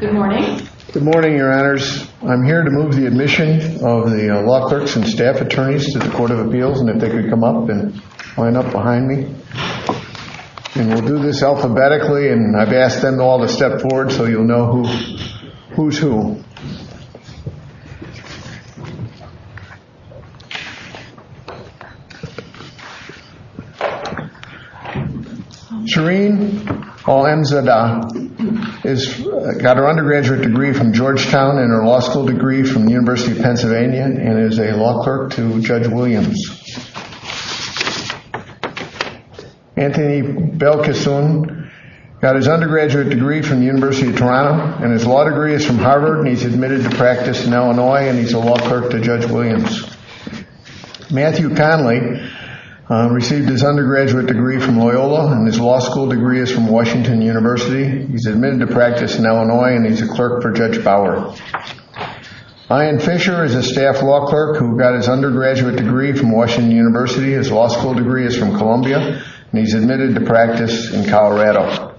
Good morning, your honors. I'm here to move the admission of the law clerks and staff attorneys to the Court of Appeals and if they could come up and line up behind me. And we'll do this alphabetically and I've asked them all to step forward so you'll know who's who. Shereen Olenzada got her undergraduate degree from Georgetown and her law school degree from the University of Pennsylvania and is a law clerk to Judge Williams. Anthony Belkiston got his undergraduate degree from the University of Toronto and his law degree is from Harvard and he's admitted to practice in Illinois and he's a law clerk to Judge Williams. Matthew Conley received his undergraduate degree from Loyola and his law school degree is from Washington University. He's admitted to practice in Illinois and he's a clerk for Judge Bauer. Ian Fisher is a staff law clerk who got his undergraduate degree from Washington University. His law school degree is from Columbia and he's admitted to practice in Colorado.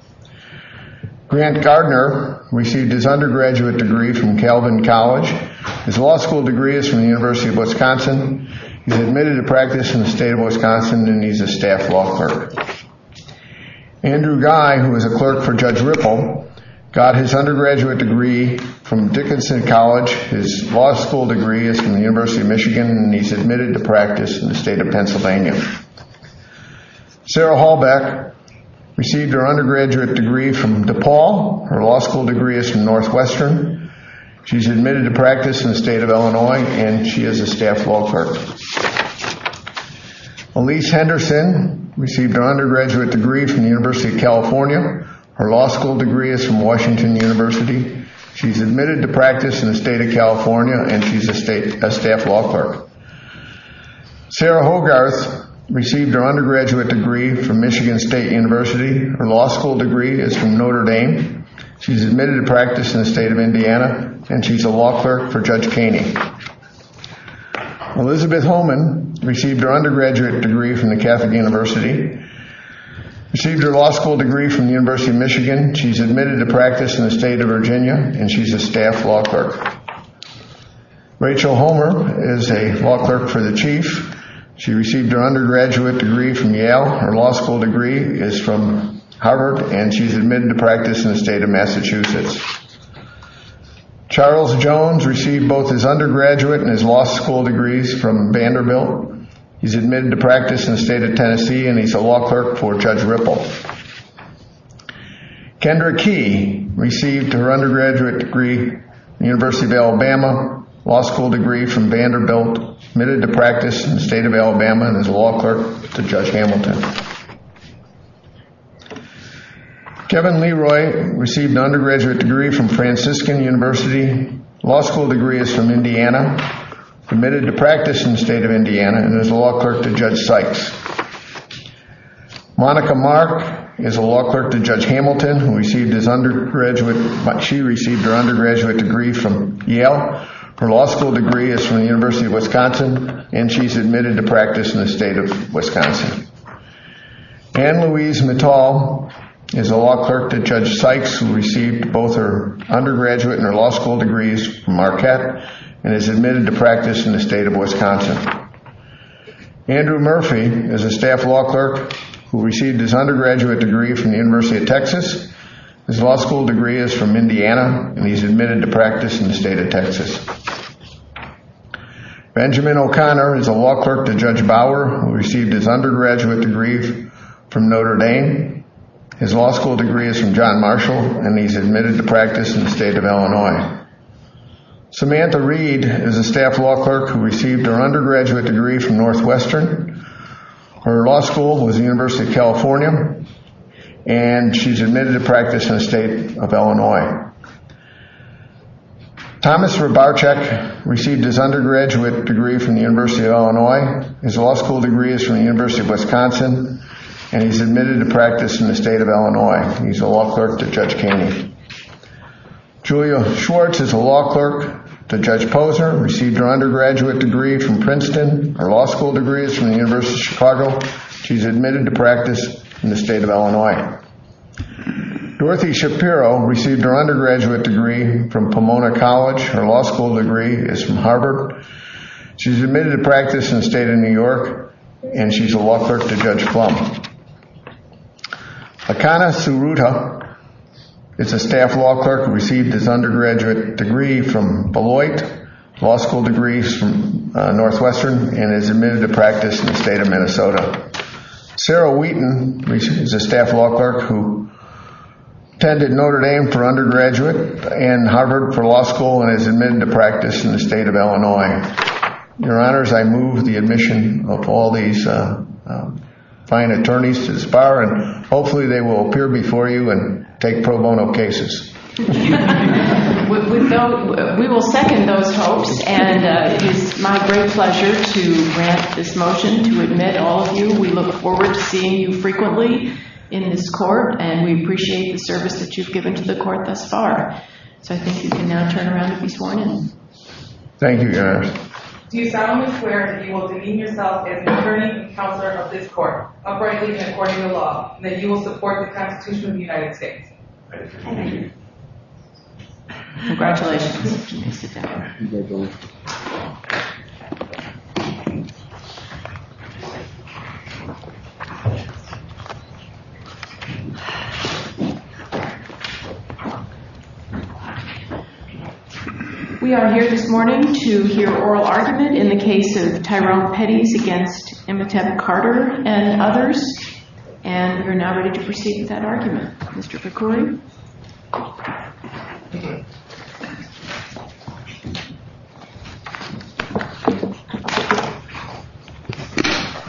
Grant Gardner received his undergraduate degree from Calvin College. His law school degree is from the University of Wisconsin. He's admitted to practice in the state of Wisconsin and he's a staff law clerk. Andrew Guy, who is a clerk for Judge Ripple, got his undergraduate degree from Dickinson College. His law school degree is from the University of Michigan and he's admitted to practice in the state of Pennsylvania. Sarah Hallbeck received her undergraduate degree from DePaul. Her law school degree is from Northwestern. She's admitted to practice in the state of Illinois and she is a staff law clerk. Elyse Henderson received her undergraduate degree from the University of California. Her law school degree is from Washington University. She's admitted to practice in the state of California and she's a staff law clerk. Sarah Hogarth received her undergraduate degree from Michigan State University. Her law school degree is from Notre Dame. She's admitted to practice in the state of Indiana and she's a law clerk for Judge Kaney. Elizabeth Holman received her undergraduate degree from the Catholic University. She received her law school degree from the University of Michigan. She's admitted to practice in the state of Virginia and she's a staff law clerk. Rachel Homer is a law clerk for the Chief. She received her undergraduate degree from Yale. Her law school degree is from Harvard and she's admitted to practice in the state of Massachusetts. Charles Jones received both his undergraduate and his law school degrees from Vanderbilt. He's admitted to practice in the state of Alabama and he's a law clerk for Judge Hamilton. Kendra Key received her undergraduate degree from the University of Alabama. Law school degree from Vanderbilt. Admitted to practice in the state of Alabama and is a law clerk to Judge Hamilton. Kevin Leroy received an undergraduate degree from Franciscan University. Law school degree is from Indiana. Admitted to practice in the state of Indiana and is a law clerk to Judge Sykes. Monica Mark is a law clerk to Judge Hamilton. She received her undergraduate degree from Yale. Her law school degree is from the University of Wisconsin and she's admitted to practice in the state of Wisconsin. Anne Louise Natal is a law clerk to Judge Sykes who received both her undergraduate and her law school degrees from Marquette and is admitted to practice in the state of Wisconsin. Andrew Murphy is a staff law clerk who received his undergraduate degree from the University of Texas. His law school degree is from Indiana and he's admitted to practice in the state of Texas. Benjamin O'Connor is a law clerk to Judge Bauer who received his undergraduate degree from Notre Dame. His law school degree is from John Marshall and he's admitted to practice in the state of Illinois. Samantha Reed is a staff law clerk who received her undergraduate degree from Northwestern. Her law school was the University of California and she's admitted to practice in the state of Illinois. Thomas Rabacek received his undergraduate degree from the University of Illinois. His law school degree is from the University of Wisconsin and he's admitted to practice in the state of Illinois. Julia Schwartz is a law clerk to Judge Posner, received her undergraduate degree from Princeton. Her law school degree is from the University of Chicago. She's admitted to practice in the state of Illinois. Dorothy Shapiro received her undergraduate degree from Pomona College. Her law school degree is from Harvard. She's admitted to practice in the state of New York and she's a law clerk to Judge Ruta. It's a staff law clerk who received his undergraduate degree from Beloit. Law school degree is from Northwestern and is admitted to practice in the state of Minnesota. Sarah Wheaton is a staff law clerk who attended Notre Dame for undergraduate and Harvard for law school and is admitted to practice in the state of Illinois. Your honors, I move the admission of all these fine attorneys to the court. We will second those hopes and it's my great pleasure to grant this motion to admit all of you. We look forward to seeing you frequently in this court and we appreciate the service that you've given to the court thus far. I think you can now turn around if you want to. Thank you, your honors. You've done what's fair and you will redeem yourself as attorney and counselor of this court, uprightly and according to law, and that you will support the Constitution of the United States. Congratulations. We are here this morning to hear oral argument in the case of Tyrone Pettys against Emmett Carter and others. And we're now ready to proceed with that argument. Mr. Pickering.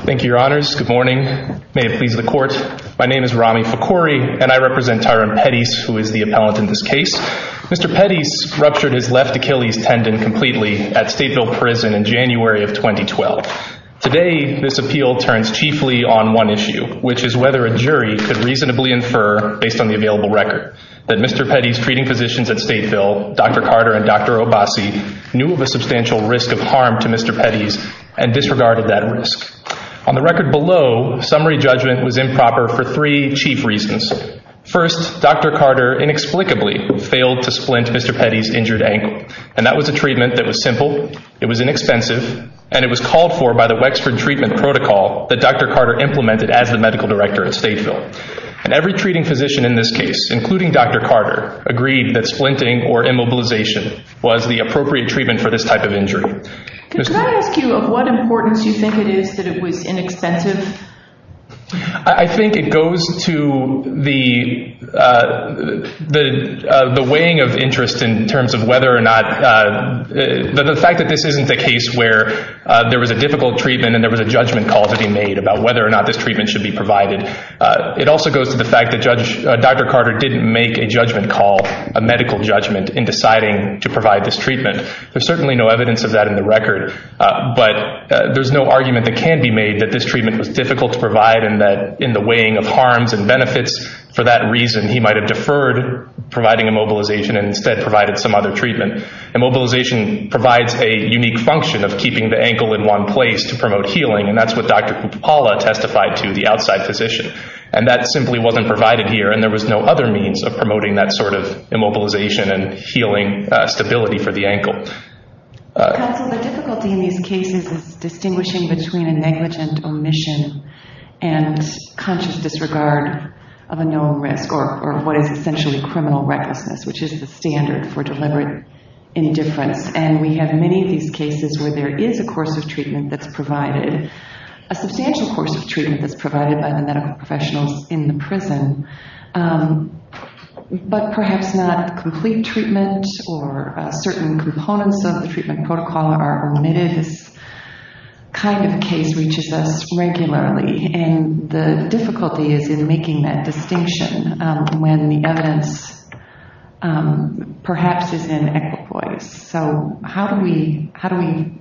Thank you, your honors. Good morning. May it please the court. My name is Rami Pickering and I represent Tyrone Pettys, who is the appellant in this case. Mr. Pettys ruptured his left Achilles tendon completely at Stateville Prison in January of 2012. Today, this appeal turns chiefly on one issue, which is whether a jury could reasonably infer, based on the available records, that Tyrone Pettys was injured, that Mr. Pettys' treating physicians at Stateville, Dr. Carter and Dr. Obasi, knew of a substantial risk of harm to Mr. Pettys and disregarded that risk. On the record below, summary judgment was improper for three chief reasons. First, Dr. Carter inexplicably failed to splint Mr. Pettys' injured ankle. And that was a treatment that was simple, it was inexpensive, and it was called for by the Wexford treatment protocol that Dr. Carter implemented as the medical director of Stateville. And every treating physician in this case, including Dr. Carter, agreed that splinting or immobilization was the appropriate treatment for this type of injury. Can I ask you of what importance you think it is that it was inexpensive? I think it goes to the weighing of interest in terms of whether or not, the fact that this isn't the case where there was a difficult treatment and there was a judgment call to be made about whether or not this treatment should be provided. It also goes to the fact that Dr. Carter didn't make a judgment call, a medical judgment, in deciding to provide this treatment. There's certainly no evidence of that in the record, but there's no argument that can be made that this treatment was difficult to provide and that in the weighing of harms and benefits for that reason, he might have deferred providing immobilization and instead provided some other treatment. Immobilization provides a unique function of keeping the ankle in one place to promote healing, and that's what Dr. Kupala testified to the outside physician. And that simply wasn't provided here, and there was no other means of promoting that sort of immobilization and healing stability for the ankle. The difficulty in these cases is distinguishing between a negligent omission and conscious disregard of a known risk, or what is essentially criminal recklessness, which is the standard for deliberate indifference. And we have many of these cases where there is a course of treatment that's provided, a substantial course of treatment that's provided by the medical professional in the prison, but perhaps not complete treatment or certain components of the treatment protocol are omitted. This kind of case reaches us regularly, and the difficulty is in making that distinction when the evidence perhaps is an exploit. So how do we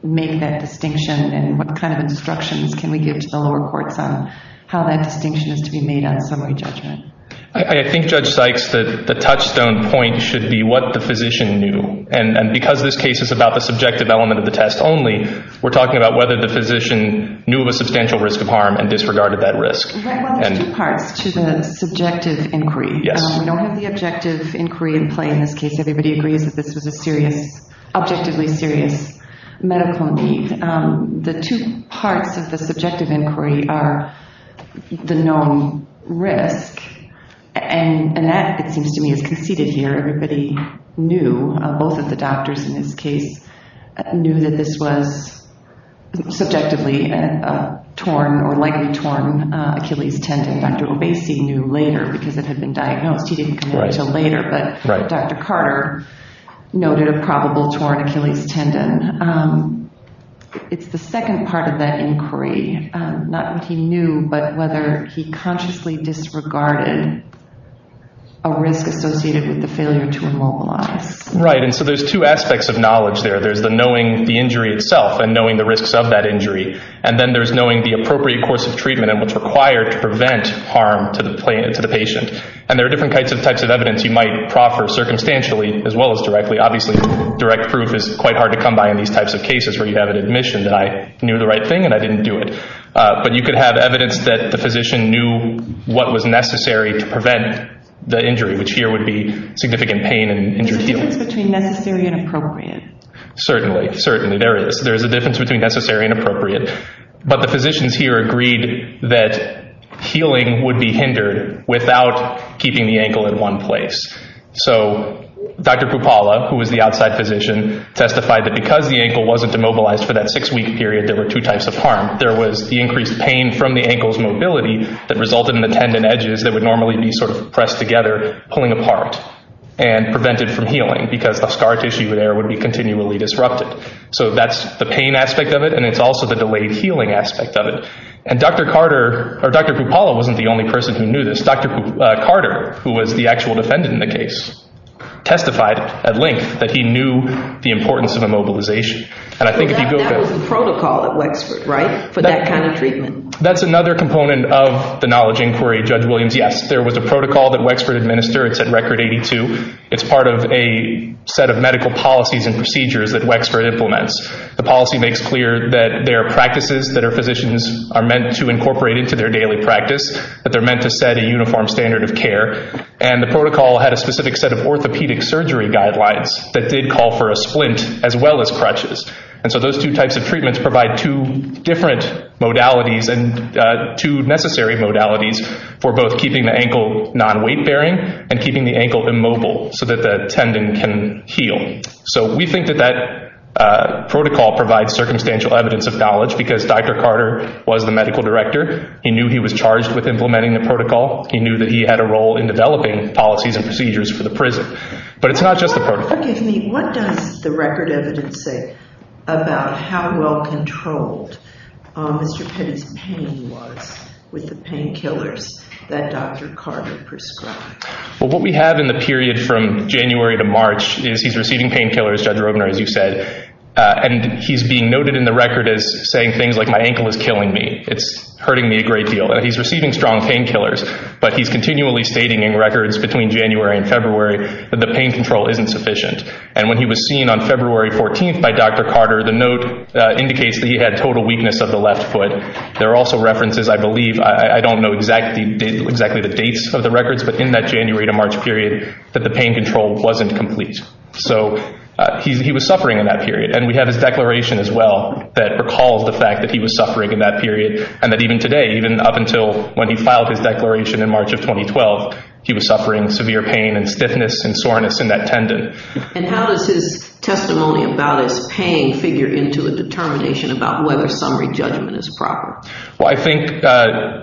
make that distinction, and what kind of instructions can we give to the lower courts on how that distinction is to be made out of a judgment? I think Judge Sykes, the touchstone point should be what the physician knew. And because this case is about the subjective element of the test only, we're talking about whether the physician knew of a substantial risk of harm and disregarded that risk. I have two parts to the subjective inquiry. One is the objective inquiry in this case, and everybody agrees that this is an objectively serious medical need. The two parts of the subjective inquiry are the known risk, and that, it seems to me, is conceded here. I think everybody knew, both of the doctors in this case, knew that this was subjectively a torn or likely torn Achilles tendon. Dr. Lubezki knew later, because it had been diagnosed. He didn't come into it until later, but Dr. Carter noted a probable torn Achilles tendon. It's the second part of that inquiry, not that he knew, but whether he consciously disregarded a risk associated with the failure to immobilize. Right, and so there's two aspects of knowledge there. There's the knowing the injury itself and knowing the risks of that injury. And then there's knowing the appropriate course of treatment and what's required to prevent harm to the patient. And there are different types of evidence you might proffer circumstantially as well as directly. Obviously, direct proof is quite hard to come by in these types of cases where you have an admission that I knew the right thing and I didn't do it. But you could have evidence that the physician knew what was necessary to prevent the injury, which here would be significant pain and injury healing. There's a difference between necessary and appropriate. But the physicians here agreed that healing would be hindered without keeping the ankle in one place. So Dr. Pupala, who was the outside physician, testified that because the ankle wasn't immobilized for that six-week period, there were two types of harm. There was the increased pain from the ankle's mobility that resulted in the tendon edges that would normally be sort of pressed together, pulling apart and prevented from healing because the scar tissue there would be continually disrupted. So that's the pain aspect of it, and it's also the delayed healing aspect of it. And Dr. Carter, or Dr. Pupala, wasn't the only person who knew this. Dr. Carter, who was the actual defendant in the case, testified at length that he knew the importance of immobilization. And I think if you build that- That was the protocol at Wexford, right, for that kind of treatment? That's another component of the knowledge inquiry. Judge Williams, yes, there was a protocol that Wexford administered. It's at Record 82. It's part of a set of medical policies and procedures that Wexford implements. The policy makes clear that there are practices that our physicians are meant to incorporate into their daily practice, that they're meant to set a uniform standard of care, and the protocol had a specific set of orthopedic surgery guidelines that did call for a splint as well as crutches. And so those two types of treatments provide two different modalities and two necessary modalities for both keeping the ankle non-weight-bearing and keeping the ankle immobile so that the tendon can heal. So we think that that protocol provides circumstantial evidence of knowledge because Dr. Carter was the medical director. He knew he was charged with implementing the protocol. He knew that he had a role in developing policies and procedures for the prison. But it's not just the protocol. What does the record evidence say about how well controlled Mr. King's pain was with the painkillers that Dr. Carter prescribed? Well, what we have in the period from January to March is he's receiving painkillers, Judge Robner, as you said, and he's being noted in the record as saying things like, my ankle is killing me. It's hurting me a great deal. And he's receiving strong painkillers, but he's continually stating in records between January and February that the pain control isn't sufficient. And when he was seen on February 14th by Dr. Carter, the note indicates that he had total weakness of the left foot. There are also references, I believe, I don't know exactly the dates of the records, but in that January to March period that the pain control wasn't complete. So he was suffering in that period. And we have his declaration as well that recalls the fact that he was suffering in that period, and that even today, even up until when he filed his declaration in March of 2012, he was suffering severe pain and stiffness and soreness in that tendon. And how does his testimony about his pain figure into a determination about whether summary judgment is proper? Well, I think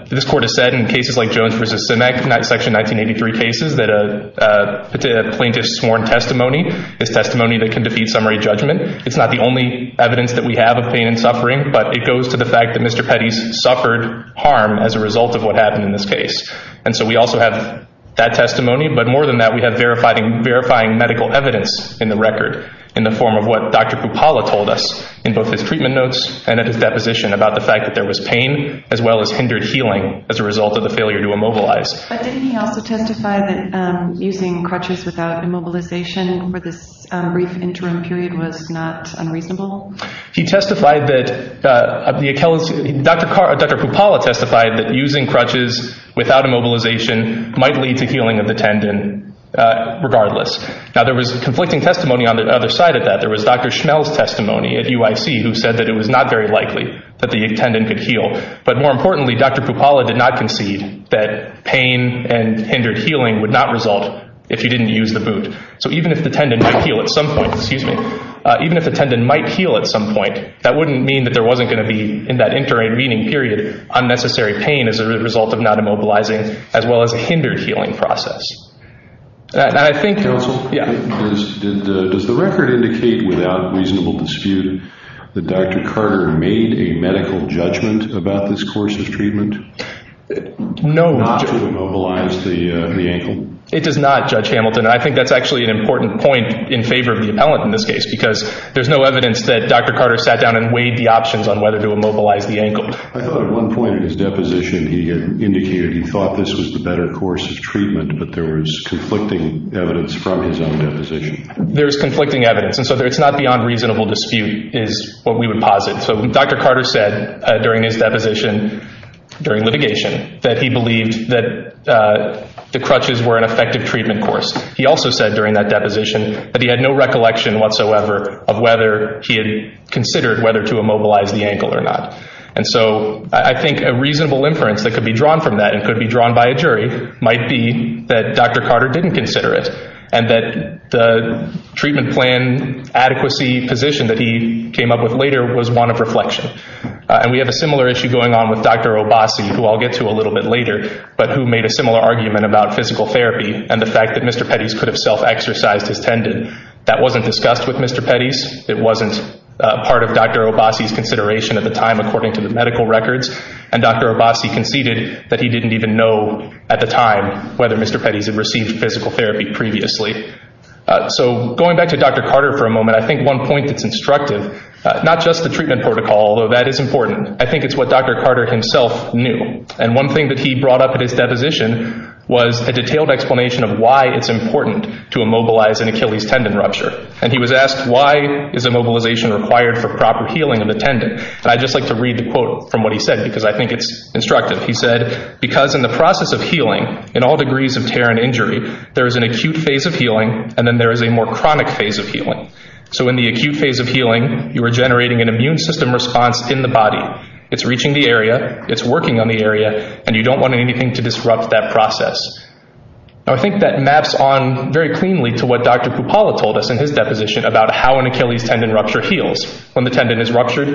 this Court has said in cases like Jones v. Sinek, and that's actually 1983 cases, that a plaintiff's sworn testimony is testimony that can defeat summary judgment. It's not the only evidence that we have of pain and suffering, but it goes to the fact that Mr. Petty suffered harm as a result of what happened in this case. And so we also have that testimony, but more than that, we have verifying medical evidence in the record in the form of what Dr. Kupala called us in both his treatment notes and in his deposition about the fact that there was pain as well as hindered healing as a result of the failure to immobilize. But didn't he also testify that using crutches without immobilization for this brief interim period was not unreasonable? He testified that Dr. Kupala testified that using crutches without immobilization might lead to healing of the tendon regardless. Now, there was conflicting testimony on the other side of that. There was Dr. Schnell's testimony at UIC who said that it was not very likely that the tendon could heal. But more importantly, Dr. Kupala did not concede that pain and hindered healing would not result if he didn't use the boot. So even if the tendon could heal at some point, excuse me, even if the tendon might heal at some point, that wouldn't mean that there wasn't going to be in that interim meeting period unnecessary pain as a result of not immobilizing as well as a hindered healing process. And I think, yeah. Does the record indicate without reasonable dispute that Dr. Carter made a medical judgment about this course of treatment? No. Not to immobilize the ankle? It does not, Judge Hamilton. I think that's actually an important point in favor of the appellant in this case because there's no evidence that Dr. Carter sat down and weighed the options on whether to immobilize the ankle. I thought at one point in his deposition he had indicated he thought this was the better course of treatment, but there was conflicting evidence from his own deposition. There's conflicting evidence. And so it's not beyond reasonable dispute is what we would posit. So Dr. Carter said during his deposition during litigation that he believed that the crutches were an effective treatment course. He also said during that deposition that he had no recollection whatsoever of whether he had considered whether to immobilize the ankle or not. And so I think a reasonable inference that could be drawn from that and could be drawn by a jury might be that Dr. Carter didn't consider it and that the treatment plan adequacy position that he came up with later was one of reflection. And we have a similar issue going on with Dr. Obasi, who I'll get to a little bit later, but who made a similar argument about physical therapy and the fact that Mr. Pettis could have self-exercised his tendon. That wasn't discussed with Mr. Pettis. It wasn't part of Dr. Obasi's consideration at the time according to the medical records. And Dr. Obasi conceded that he didn't even know at the time whether Mr. Pettis had received physical therapy previously. So going back to Dr. Carter for a moment, I think one point that's instructive, not just the treatment protocol, although that is important, I think it's what Dr. Carter himself knew. And one thing that he brought up in his deposition was a detailed explanation of why it's important to immobilize an Achilles tendon rupture. And he was asked why is immobilization required for proper healing of the tendon. And I'd just like to read the quote from what he said because I think it's instructive. He said, because in the process of healing, in all degrees of tear and injury, there is an acute phase of healing and then there is a more chronic phase of healing. So in the acute phase of healing, you are generating an immune system response in the body. It's reaching the area, it's working on the area, and you don't want anything to disrupt that process. I think that maps on very cleanly to what Dr. Kupala told us in his deposition about how an Achilles tendon rupture heals. When the tendon is ruptured,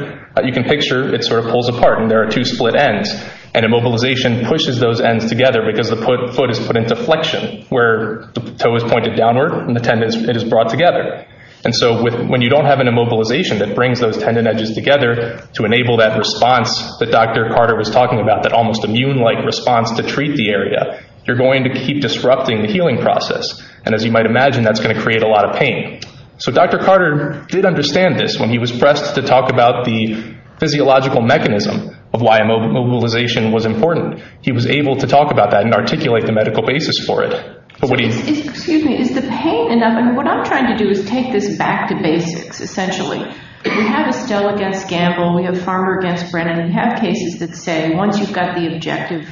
you can picture it sort of pulls apart and there are two split ends. And immobilization pushes those ends together because the foot is put into flexion where the toe is pointed downward and the tendon is brought together. And so when you don't have an immobilization that brings those tendon edges together to enable that response that Dr. Carter was talking about, that almost immune-like response to treat the area, you're going to keep disrupting the healing process. And as you might imagine, that's going to create a lot of pain. So Dr. Carter did understand this when he was pressed to talk about the physiological mechanism of why immobilization was important. He was able to talk about that and articulate the medical basis for it. Excuse me, is the pain enough? What I'm trying to do is take this back to basics, essentially. We have a sell-against gamble, we have farmer-against-brand, and we have cases that say once you've got the objective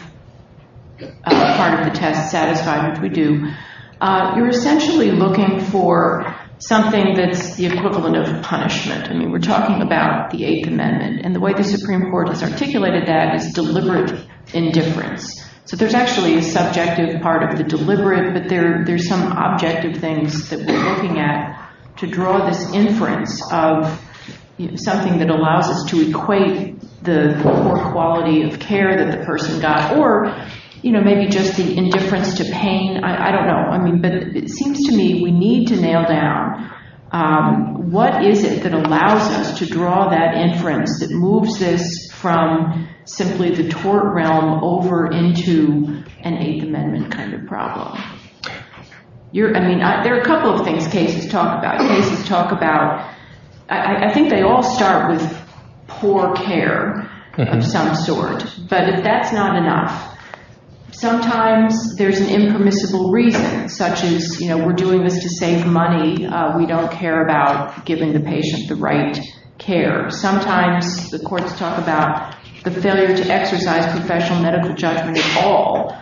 of a farm to satisfy, which we do, you're essentially looking for something that's the equivalent of a punishment. I mean, we're talking about the Eighth Amendment. And the way the Supreme Court has articulated that is deliberate indifference. So there's actually a subject as part of the deliberate, but there's some objective things that we're looking at to draw this inference of something that allows us to equate the poor quality of care that the person got. Or, you know, maybe just the indifference to pain. I don't know. It seems to me we need to nail down what is it that allows us to draw that inference, that moves this from simply the tort realm over into an Eighth Amendment kind of problem. I mean, there are a couple of things cases talk about. Cases talk about, I think they all start with poor care of some sort. But if that's not enough, sometimes there's an impermissible reason, such as, you know, we're doing this to save money. We don't care about giving the patient the right care. Sometimes the courts talk about the failure to exercise professional medical judgment at all.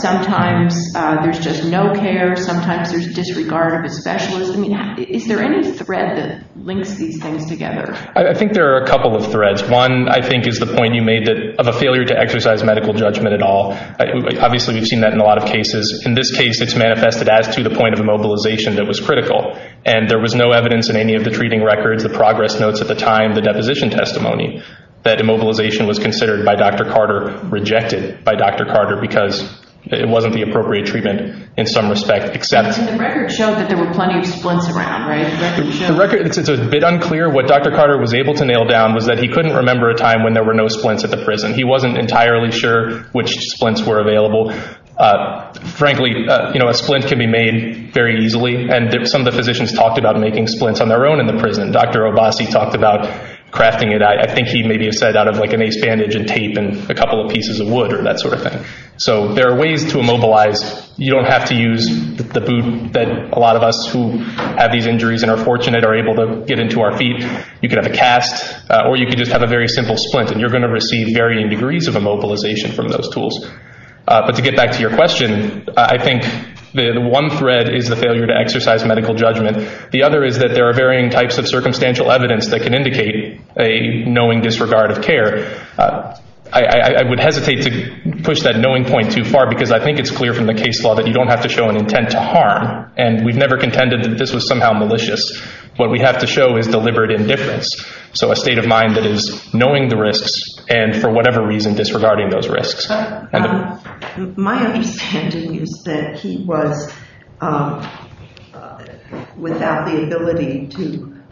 Sometimes there's just no care. Sometimes there's disregard of the specialist. I mean, is there any thread that links these things together? I think there are a couple of threads. One, I think, is the point you made of a failure to exercise medical judgment at all. Obviously, we've seen that in a lot of cases. In this case, it's manifested as to the point of mobilization that was critical. And there was no evidence in any of the treating records, the progress notes at the time, the deposition testimony, that immobilization was considered by Dr. Carter, rejected by Dr. Carter, because it wasn't the appropriate treatment in some respect. The record shows that there were plenty of splints around, right? The record is a bit unclear. What Dr. Carter was able to nail down was that he couldn't remember a time when there were no splints at the prison. He wasn't entirely sure which splints were available. Frankly, you know, a splint can be made very easily, and some of the physicians talked about making splints on their own in the prison. Dr. Abbasi talked about crafting it, I think he maybe said, out of, like, an ace bandage and tape and a couple of pieces of wood or that sort of thing. So there are ways to immobilize. You don't have to use the boot that a lot of us who have these injuries and are fortunate are able to get into our feet. You can have a cast, or you can just have a very simple splint, and you're going to receive varying degrees of immobilization from those tools. But to get back to your question, I think the one thread is the failure to exercise medical judgment. The other is that there are varying types of circumstantial evidence that can indicate a knowing disregard of care. I would hesitate to push that knowing point too far, because I think it's clear from the case law that you don't have to show an intent to harm, and we've never contended that this was somehow malicious. What we have to show is deliberate indifference, so a state of mind that is knowing the risks and, for whatever reason, disregarding those risks. My understanding is that he was without the ability to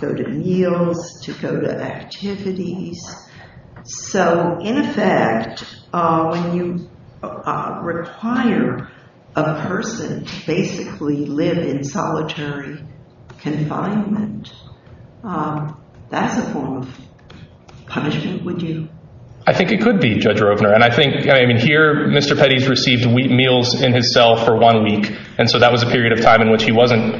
go to meals, to go to activities. So, in effect, when you require a person to basically live in solitary confinement, that's a form of punishment, would you? I think it could be, Judge Roebner. Here, Mr. Pettis received meals in his cell for one week, and so that was a period of time in which he wasn't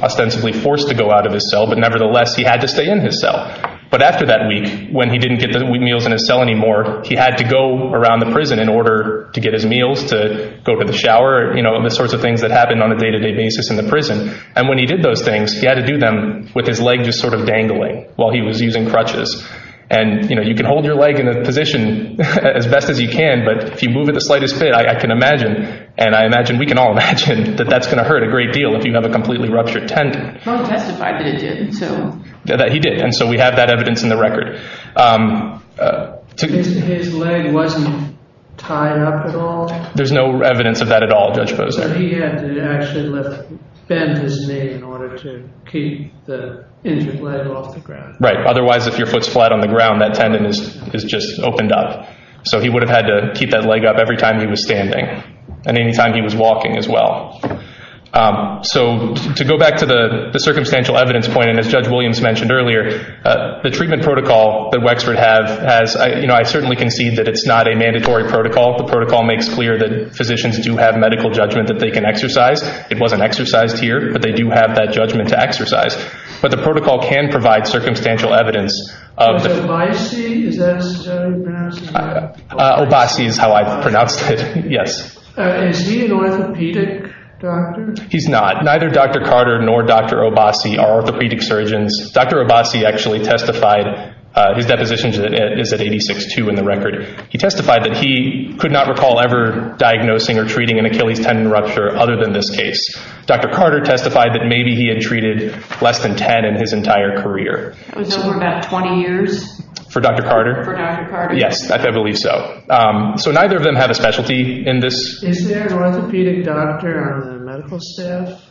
ostensibly forced to go out of his cell, but nevertheless, he had to stay in his cell. But after that week, when he didn't get the meals in his cell anymore, he had to go around the prison in order to get his meals, to go to the shower, and the sorts of things that happen on a day-to-day basis in the prison. And when he did those things, he had to do them with his leg just sort of dangling while he was using crutches. And, you know, you can hold your leg in a position as best as you can, but if you move it the slightest bit, I can imagine, and I imagine we can all imagine, that that's going to hurt a great deal if you have a completely ruptured tent. Trump testified that he did. That he did, and so we have that evidence in the record. His leg wasn't tied up at all? There's no evidence of that at all, Judge Posner. So he had to actually bend his knee in order to keep the injured leg off the ground. Right, otherwise if your foot's flat on the ground, that tendon is just opened up. So he would have had to keep that leg up every time he was standing, and any time he was walking as well. So to go back to the circumstantial evidence point, and as Judge Williams mentioned earlier, the treatment protocol that Wexford has, you know, I certainly concede that it's not a mandatory protocol. The protocol makes clear that physicians do have medical judgment that they can exercise. It wasn't exercised here, but they do have that judgment to exercise. But the protocol can provide circumstantial evidence. Obasi, is that how you pronounce it? Obasi is how I pronounce it, yes. Is he an orthopedic doctor? He's not. Neither Dr. Carter nor Dr. Obasi are orthopedic surgeons. Dr. Obasi actually testified, his deposition is at 86-2 in the record. He testified that he could not recall ever diagnosing or treating an Achilles tendon rupture other than this case. Dr. Carter testified that maybe he had treated less than 10 in his entire career. For about 20 years? For Dr. Carter? For Dr. Carter. Yes, I believe so. So neither of them had a specialty in this. Is there an orthopedic doctor on the medical staff?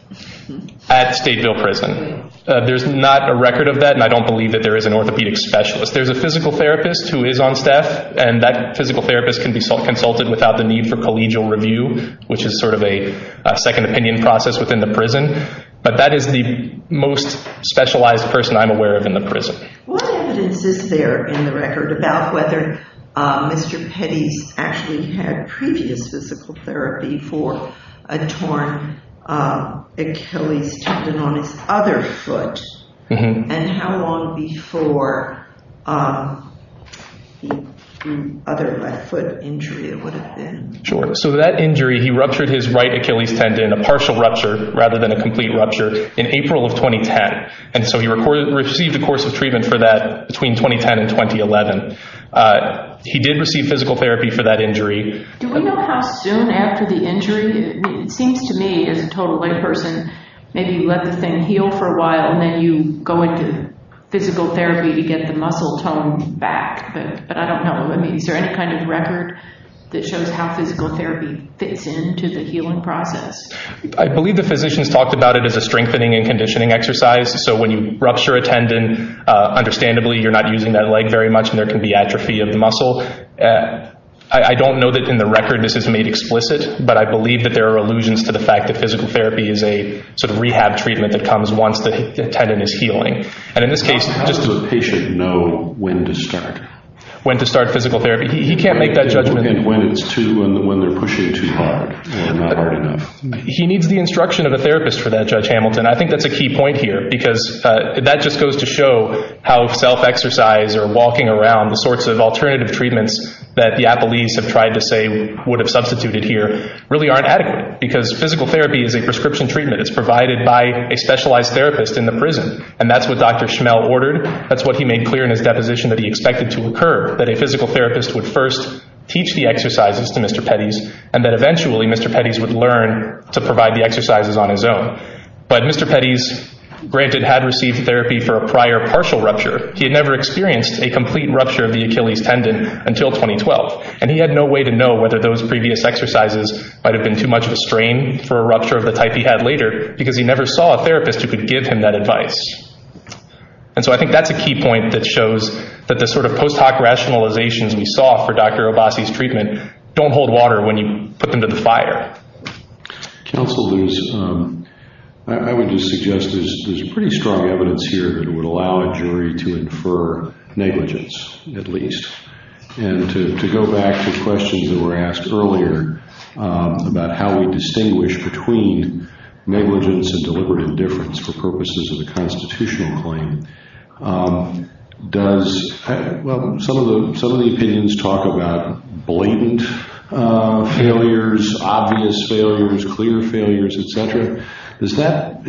At Stateville Prison. There's not a record of that, and I don't believe that there is an orthopedic specialist. There's a physical therapist who is on staff, and that physical therapist can be consulted without the need for collegial review, which is sort of a second opinion process within the prison. But that is the most specialized person I'm aware of in the prison. What evidence is there in the record about whether Mr. Petty actually had previous physical therapy for a torn Achilles tendon on his other foot? And how long before the other right foot injury? Sure. So that injury, he ruptured his right Achilles tendon, a partial rupture rather than a complete rupture, in April of 2010. And so he received a course of treatment for that between 2010 and 2011. He did receive physical therapy for that injury. Do we know how soon after the injury? It seems to me as a total white person, maybe you let the thing heal for a while, and then you go into physical therapy to get the muscle tone back. But I don't know. I mean, is there any kind of record that shows how physical therapy fits into the healing process? I believe the physicians talked about it as a strengthening and conditioning exercise. So when you rupture a tendon, understandably you're not using that leg very much, and there can be atrophy of the muscle. I don't know that in the record this is made explicit, but I believe that there are allusions to the fact that physical therapy is a sort of rehab treatment that comes once the tendon is healing. Does the patient know when to start? When to start physical therapy? He can't make that judgment. When it's too and when they're pushing it too hard. He needs the instruction of a therapist for that, Judge Hamilton. I think that's a key point here because that just goes to show how self-exercise or walking around the sorts of alternative treatments that the athletes have tried to say would have substituted here really aren't adequate because physical therapy is a prescription treatment. It's provided by a specialized therapist in the prison, and that's what Dr. Schmelt ordered. That's what he made clear in his deposition that he expected to occur, that a physical therapist would first teach the exercises to Mr. Pettis, and that eventually Mr. Pettis would learn to provide the exercises on his own. But Mr. Pettis, granted, had received therapy for a prior partial rupture. He had never experienced a complete rupture of the Achilles tendon until 2012, and he had no way to know whether those previous exercises might have been too much of a strain for a rupture of the type he had later because he never saw a therapist who could give him that advice. And so I think that's a key point that shows that the sort of post hoc rationalizations we saw for Dr. Abbasi's treatment don't hold water when you put them to the fire. Counsel, I would just suggest there's pretty strong evidence here that would allow a jury to infer negligence at least and to go back to questions that were asked earlier about how we distinguish between negligence and deliberate indifference for purposes of the constitutional claim. Some of the opinions talk about blatant failures, obvious failures, clear failures, et cetera. Is that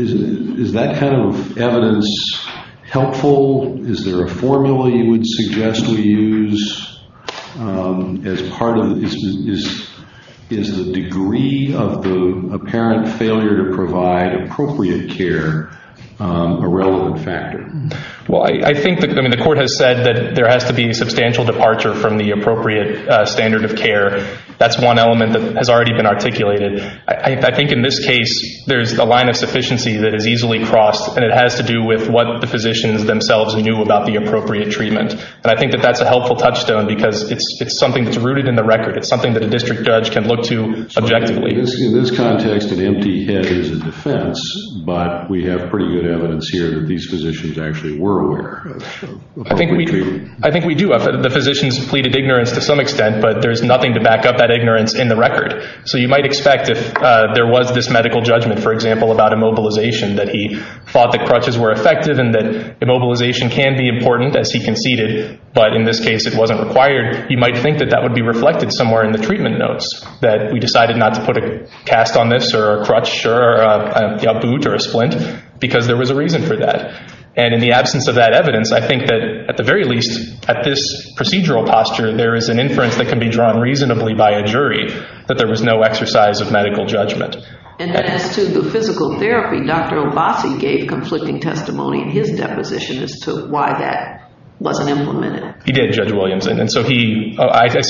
kind of evidence helpful? Is there a formula you would suggest we use? Is the degree of the apparent failure to provide appropriate care a relevant factor? Well, I think the court has said that there has to be a substantial departure from the appropriate standard of care. That's one element that has already been articulated. I think in this case there's a line of sufficiency that is easily crossed, and it has to do with what the physicians themselves knew about the appropriate treatment. And I think that that's a helpful touchstone because it's something that's rooted in the record. It's something that a district judge can look to objectively. In this context, an empty head is a defense, but we have pretty good evidence here that these physicians actually were aware. I think we do. The physicians pleaded ignorance to some extent, but there's nothing to back up that ignorance in the record. So you might expect if there was this medical judgment, for example, about immobilization, that he thought the crutches were effective and that immobilization can be important, as he conceded, but in this case it wasn't required, you might think that that would be reflected somewhere in the treatment notes, that we decided not to put a cast on this or a crutch or a boot or a splint because there was a reason for that. And in the absence of that evidence, I think that at the very least, at this procedural posture, there is an inference that can be drawn reasonably by a jury that there was no exercise of medical judgment. And to the physical therapy, Dr. Obasi gave conflicting testimony in his deposition as to why that wasn't implemented. He did, Judge Williamson. I see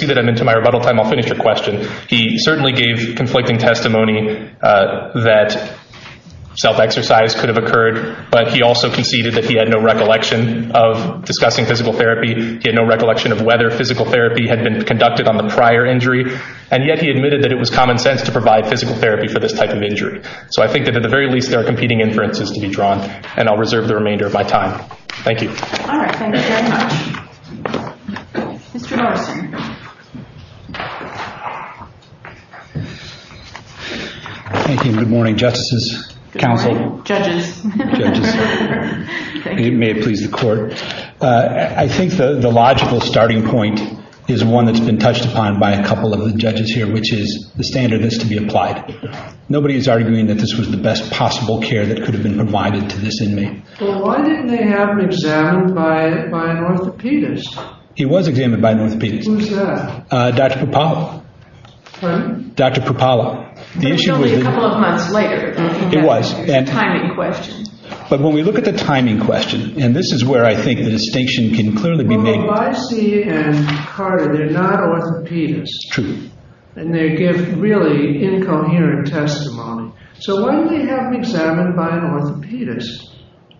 that I'm into my rebuttal time. I'll finish the question. He certainly gave conflicting testimony that self-exercise could have occurred, but he also conceded that he had no recollection of discussing physical therapy. He had no recollection of whether physical therapy had been conducted on the prior injury, and yet he admitted that it was common sense to provide physical therapy for this type of injury. So I think that at the very least, there are competing inferences to be drawn, and I'll reserve the remainder of my time. Thank you. All right. Thank you very much. Mr. Carson. Thank you. Good morning, Justice's counsel. Judges. Judges. Thank you. May it please the Court. I think the logical starting point is one that's been touched upon by a couple of the judges here, which is the standard has to be applied. Nobody is arguing that this was the best possible care that could have been provided to this inmate. Well, why didn't they have him examined by an orthopedist? He was examined by an orthopedist. Who's that? Dr. Prapala. Pardon? Dr. Prapala. No, a couple of months later. It was. A timing question. But when we look at the timing question, and this is where I think the distinction can clearly be made. Well, the YC and Carter, they're not orthopedists. True. And they give really incoherent testimony. So why didn't they have him examined by an orthopedist?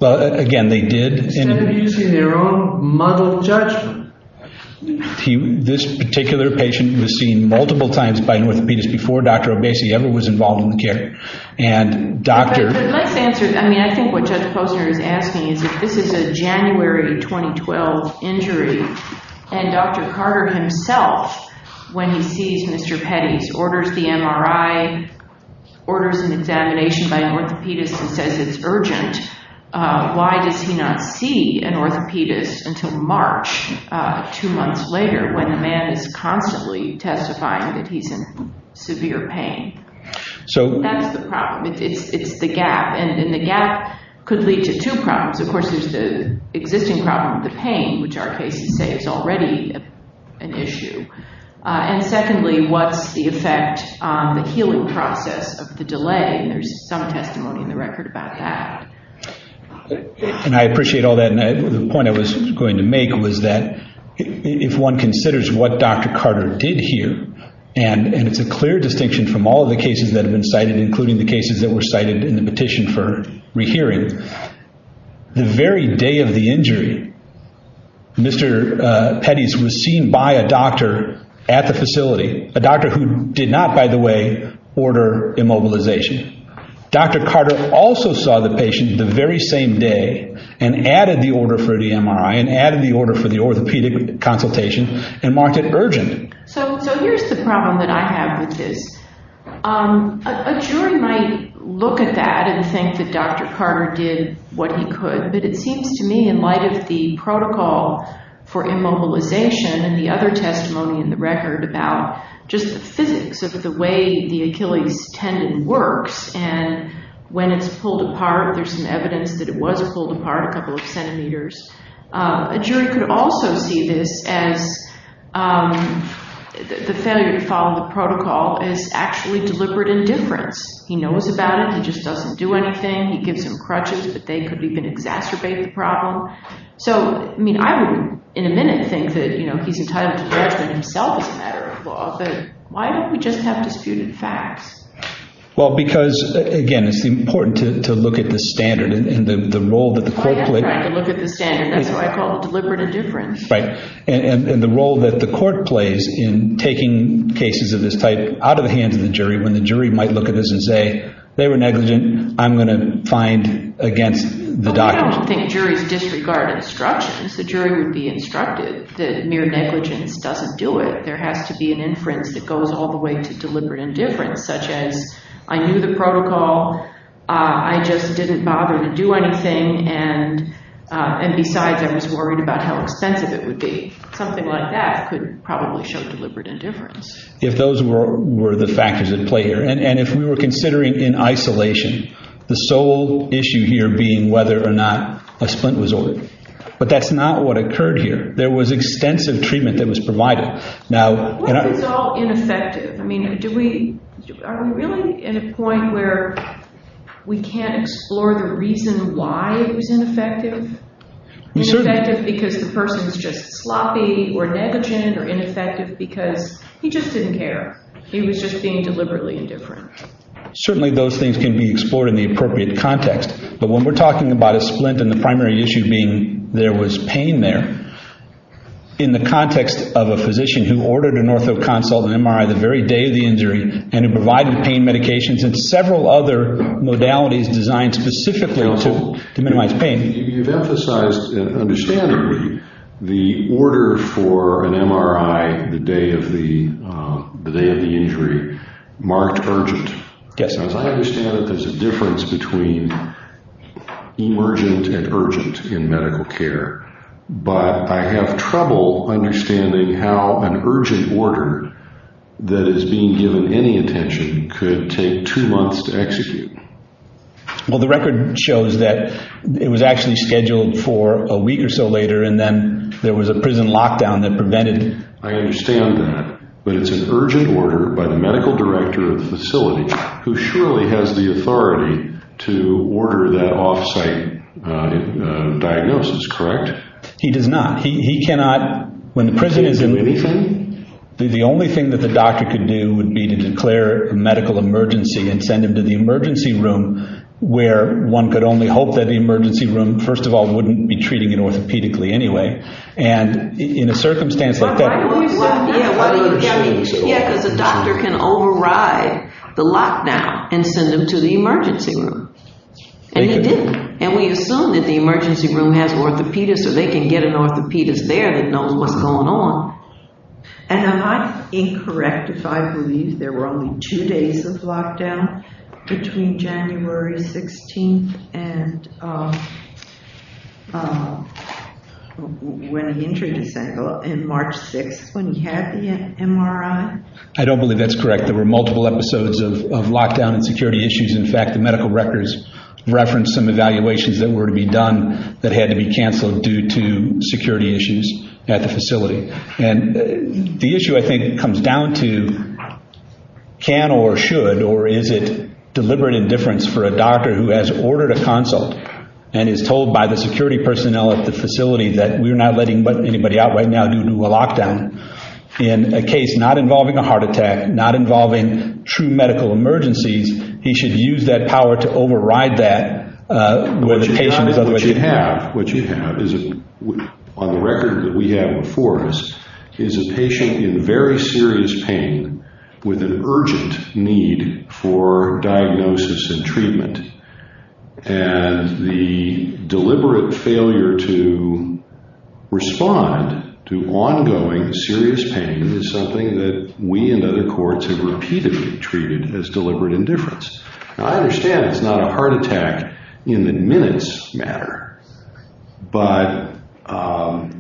Well, again, they did. Instead of using their own muddled judgment. This particular patient was seen multiple times by an orthopedist before Dr. Obeisi ever was involved in the care. I think what Judge Posner is asking is that this is a January 2012 injury. And Dr. Carter himself, when he sees Mr. Petty's, orders the MRI, orders an examination by an orthopedist and says it's urgent. Why does he not see an orthopedist until March, two months later, when the man is constantly testifying that he's in severe pain? That's the problem. It's the gap. And the gap could lead to two problems. Of course, there's the existing problem of the pain, which our patients say is already an issue. And secondly, what's the effect on the healing process of the delay? There's some testimony in the record about that. And I appreciate all that. The point I was going to make was that if one considers what Dr. Carter did here, and it's a clear distinction from all the cases that have been cited, including the cases that were cited in the petition for rehearing, the very day of the injury, Mr. Petty's was seen by a doctor at the facility, a doctor who did not, by the way, order immobilization. Dr. Carter also saw the patient the very same day and added the order for the MRI and added the order for the orthopedic consultation and marked it urgent. So here's the problem that I have with this. A jury might look at that and think that Dr. Carter did what he could, but it seems to me in light of the protocol for immobilization and the other testimony in the record about just the physics of the way the Achilles tendon works and when it's pulled apart there's some evidence that it was pulled apart a couple of centimeters, a jury could also see this as the senator following the protocol is actually deliberate indifference. He knows about it. He just doesn't do anything. He gives them crutches that they could even exaggerate the problem. So, I mean, I would in a minute think that, you know, he's entitled to do that for himself as a matter of law, but why don't we just have the students act? Well, because, again, it's important to look at the standard and the role that the court plays. That's right. Look at the standard of what I call deliberate indifference. Right. And the role that the court plays in taking cases of this type out of the hands of the jury when the jury might look at this and say, they were negligent, I'm going to find against the document. I don't think juries disregard instructions. The jury would be instructed that mere negligence doesn't do it. There has to be an inference that goes all the way to deliberate indifference, such as, I knew the protocol, I just didn't bother to do anything, and besides, I was worried about how expensive it would be. Something like that could probably show deliberate indifference. If those were the factors at play here, and if we were considering in isolation, the sole issue here being whether or not a splint was ordered. But that's not what occurred here. There was extensive treatment that was provided. What do you call ineffective? I mean, are we really at a point where we can't explore the reason why it was ineffective? Ineffective because the person is just sloppy or negligent or ineffective because he just didn't care. He was just being deliberately indifferent. Certainly those things can be explored in the appropriate context. But when we're talking about a splint and the primary issue being there was pain there, in the context of a physician who ordered an ortho consult, an MRI the very day of the injury, and who provided pain medications and several other modalities designed specifically to minimize pain. You've emphasized and understandably the order for an MRI the day of the injury marked urgent. Yes. Because I understand there's a difference between emergent and urgent in medical care. But I have trouble understanding how an urgent order that is being given any intention could take two months to execute. Well, the record shows that it was actually scheduled for a week or so later, and then there was a prison lockdown that prevented it. I understand that. But it's an urgent order by the medical director of the facility, who surely has the authority to order that off-site diagnosis, correct? He does not. He cannot. When the prison is open, the only thing that the doctor can do would be to declare a medical emergency and send him to the emergency room where one could only hope that the emergency room, first of all, wouldn't be treating him orthopedically anyway. And in a circumstance like that. Well, he wasn't there, but he was getting treated. Yes, but the doctor can override the lockdown and send him to the emergency room. And he didn't. And we assume that the emergency room has an orthopedist, and they can get an orthopedist there to know what's going on. And am I incorrect if I believe there were only two days of lockdown between January 16th and March 6th when he had the MRI? I don't believe that's correct. There were multiple episodes of lockdown and security issues. In fact, the medical records referenced some evaluations that were to be done that had to be canceled due to security issues at the facility. And the issue, I think, comes down to can or should, or is it deliberate indifference for a doctor who has ordered a consult and is told by the security personnel at the facility that we're not letting anybody out right now due to a lockdown. In a case not involving a heart attack, not involving true medical emergencies, he should use that power to override that where the patient is already at. What you have is, on the record that we have in force, is a patient in very serious pain with an urgent need for diagnosis and treatment. And the deliberate failure to respond to ongoing serious pain is something that we and other courts have repeatedly treated as deliberate indifference. I understand it's not a heart attack in the minutes matter, but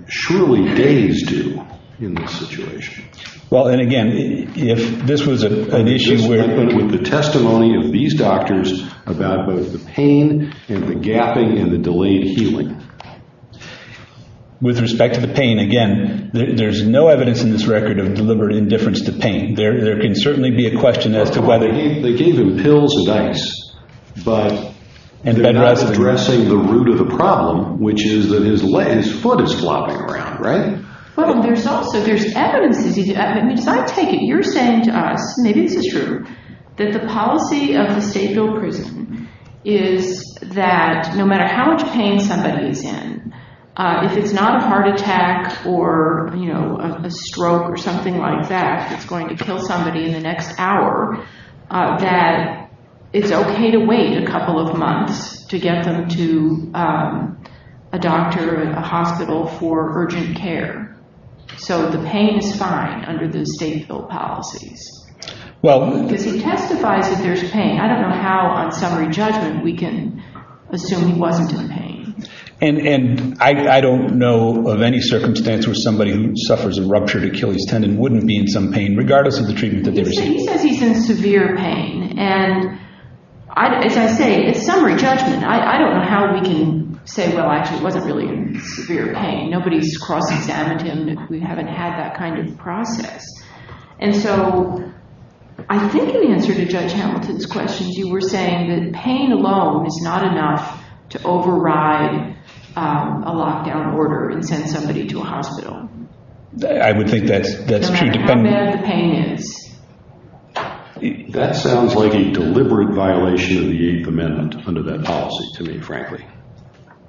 surely days do in this situation. Well, and again, if this was an issue where... This is the testimony of these doctors about both the pain and the gapping and the delayed healing. With respect to the pain, again, there's no evidence in this record of deliberate indifference to pain. There can certainly be a question as to whether... They gave him pills and ice, but... And they're not addressing the root of the problem, which is that his leg, his foot is flopping around, right? Well, there's no... So there's evidence. If I take it, you're saying to us, maybe this is true, that the policy of the state jail prison is that no matter how much pain somebody's in, if it's not a heart attack or a stroke or something like that, that's going to kill somebody in the next hour, that it's okay to wait a couple of months to get them to a doctor or a hospital for urgent care. So the pain is fine under the state's policies. If it testifies that there's pain, I don't know how on summary judgment we can assume he wasn't in pain. And I don't know of any circumstance where somebody who suffers a ruptured Achilles tendon wouldn't be in some pain, regardless of the treatment that they received. He said he's in severe pain. And as I say, it's summary judgment. I don't know how we can say, well, actually, he wasn't really in severe pain. Nobody's cross-examined him if we haven't had that kind of process. And so I think in answer to Judge Hamilton's question, you were saying that pain alone is not enough to override a lockdown order and send somebody to a hospital. I would think that's true. And that's the pain. That sounds like a deliberate violation of the Eighth Amendment under that policy to me, frankly.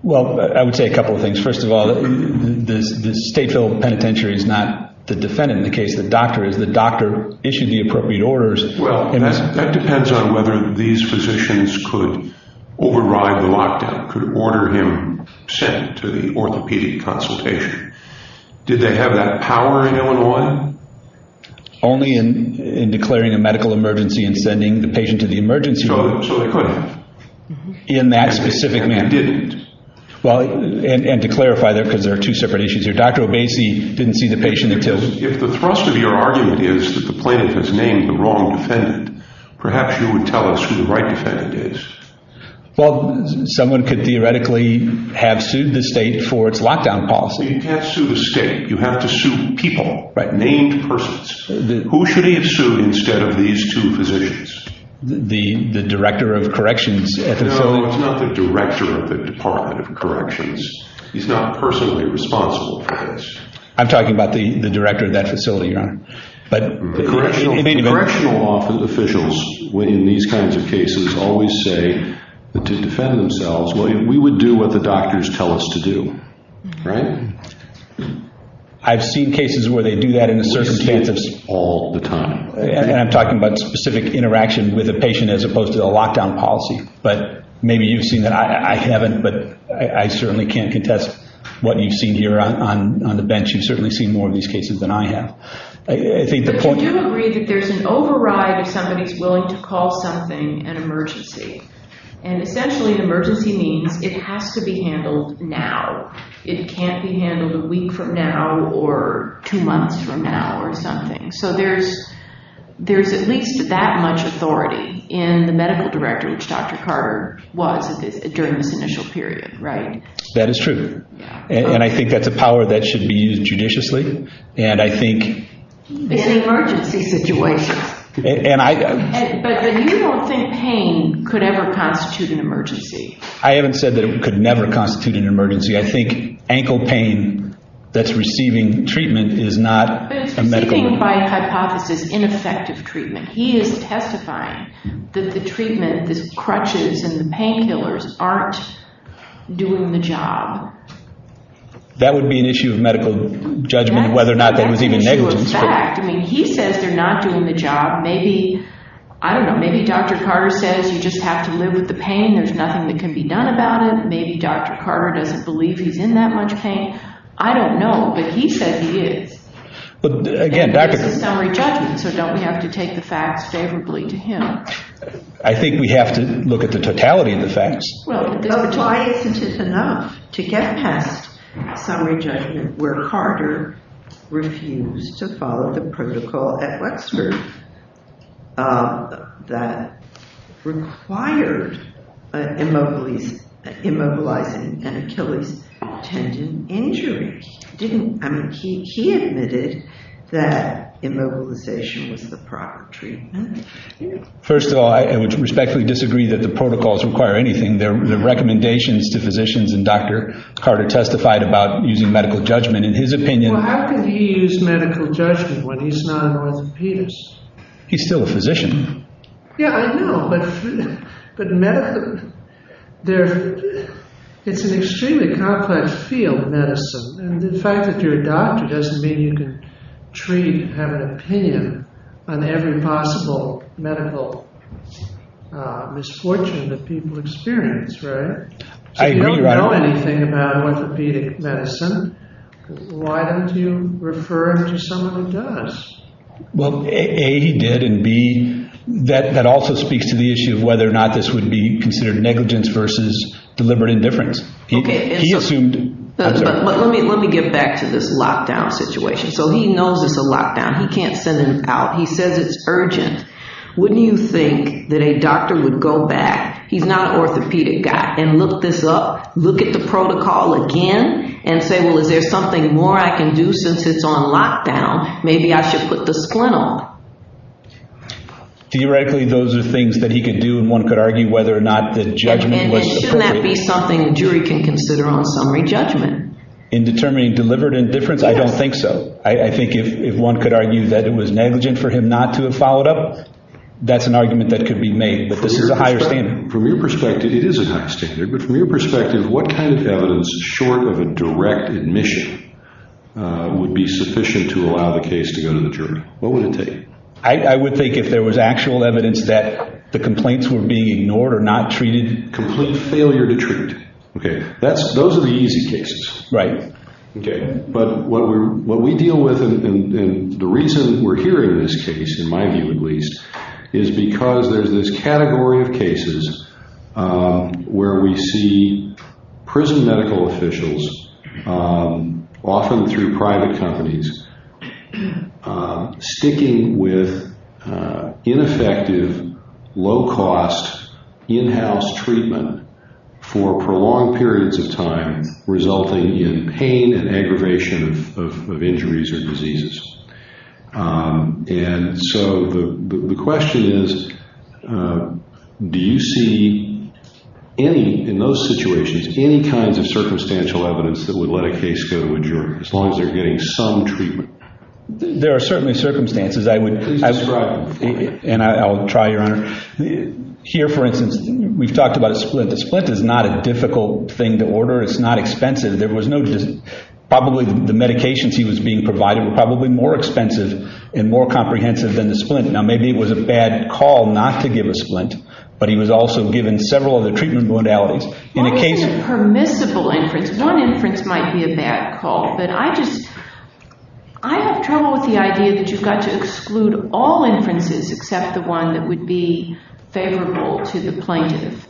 Well, I would say a couple of things. First of all, the state-filled penitentiary is not the defendant in the case. The doctor is. The doctor issued the appropriate orders. Well, that depends on whether these physicians could override the lockdown, could order him sent to the orthopedic consultation. Did they have that power in Illinois? Only in declaring a medical emergency and sending the patient to the emergency room. So they couldn't. In that specific minute. They didn't. Well, and to clarify, because there are two separate issues here. Perhaps you would tell us who the right defendant is. Well, someone could theoretically have sued the state for its lockdown policy. You can't sue the state. You have to sue the people. Right. Named persons. Who should he have sued instead of these two physicians? The director of corrections at the facility? No, it's not the director of the Department of Corrections. He's not personally responsible for this. I'm talking about the director of that facility. Right. The correctional office officials, when in these kinds of cases, always say to defend themselves, we would do what the doctors tell us to do. Right. I've seen cases where they do that in certain cases. All the time. And I'm talking about specific interaction with the patient as opposed to the lockdown policy. But maybe you've seen that. I haven't. But I certainly can't contest what you've seen here on the bench. You've certainly seen more of these cases than I have. I do agree that there's an override of somebody's willingness to call something an emergency. And essentially an emergency means it has to be handled now. It can't be handled a week from now or two months from now or something. So there's at least that much authority in the medical director, which Dr. Carter was during this initial period. Right. That is true. And I think that's a power that should be used judiciously. It's an emergency situation. But you don't think pain could ever constitute an emergency. I haven't said that it could never constitute an emergency. I think ankle pain that's receiving treatment is not a medical problem. It's receiving by hypothesis ineffective treatment. He is testifying that the treatment, the crutches and the painkillers aren't doing the job. That would be an issue of medical judgment whether or not that was even negligence. He says they're not doing the job. Maybe, I don't know, maybe Dr. Carter says you just have to live with the pain. There's nothing that can be done about it. Maybe Dr. Carter doesn't believe he's in that much pain. I don't know. But he says he is. Again, back to the- In summary, doesn't. So don't have to take the facts favorably to him. I think we have to look at the totality of the facts. Well, the totality is sufficient enough to get past summary judgment where Carter refused to follow the protocol at Wexford that required immobilizing and killing tendon injuries. He admitted that immobilization was the proper treatment. First of all, I respectfully disagree that the protocols require anything. The recommendations to physicians and Dr. Carter testified about using medical judgment. In his opinion- Well, how could he use medical judgment when he's not an orthopedist? He's still a physician. Yeah, I know. But medical, it's an extremely complex field of medicine. And the fact that you're a doctor doesn't mean you can treat and have an opinion on every possible medical misfortune that people experience, right? I agree with you. You don't know anything about orthopedic medicine. Why don't you refer him to someone who does? Well, A, he did, and B, that also speaks to the issue of whether or not this would be considered negligence versus deliberate indifference. Let me get back to this lockdown situation. So he knows it's a lockdown. He can't send him out. He says it's urgent. Wouldn't you think that a doctor would go back, he's not an orthopedic guy, and look this up, look at the protocol again, and say, well, is there something more I can do since it's on lockdown? Maybe I should put the splint on. He rightly, those are things that he could do. And shouldn't that be something a jury can consider on summary judgment? In determining deliberate indifference? I don't think so. I think if one could argue that it was negligent for him not to have followed up, that's an argument that could be made. But this is a higher standard. From your perspective, it is a higher standard, but from your perspective, what kind of evidence short of a direct admission would be sufficient to allow the case to go to the jury? What would it take? I would think if there was actual evidence that the complaints were being ignored or not treated, complete failure to treat. Those are the easy cases. Right. But what we deal with, and the reason we're here in this case, in my view at least, is because there's this category of cases where we see prison medical officials, often through private companies, sticking with ineffective, low-cost, in-house treatment for prolonged periods of time, resulting in pain and aggravation of injuries and diseases. And so the question is, do you see any, in those situations, any kind of circumstantial evidence that would let a case go to a jury, as long as they're getting some treatment? There are certainly circumstances. And I'll try, Your Honor. Here, for instance, we've talked about split. Split is not a difficult thing to order. It's not expensive. There was no just – probably the medications he was being provided were probably more expensive and more comprehensive than the split. Now, maybe it was a bad call not to give a split, but he was also given several other treatment bondalities. One is a permissible inference. One inference might be a bad call. But I just – I have trouble with the idea that you've got to exclude all inferences except the one that would be favorable to the plaintiff.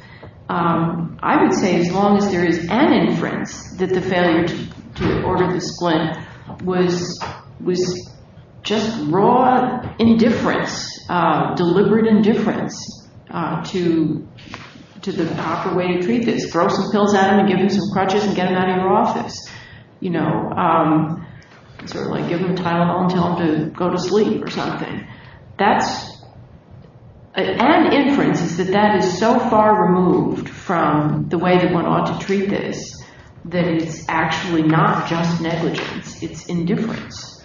I would say, as long as there is an inference that the failure to order the split was just raw indifference, deliberate indifference to the proper way of treatment. Throw some pills at him, give him some crutches, and get him out of your office. You know, sort of like give him Tylenol and tell him to go to sleep or something. That's an inference, but that is so far removed from the way that one ought to treat this that it's actually not just negligence. It's indifference.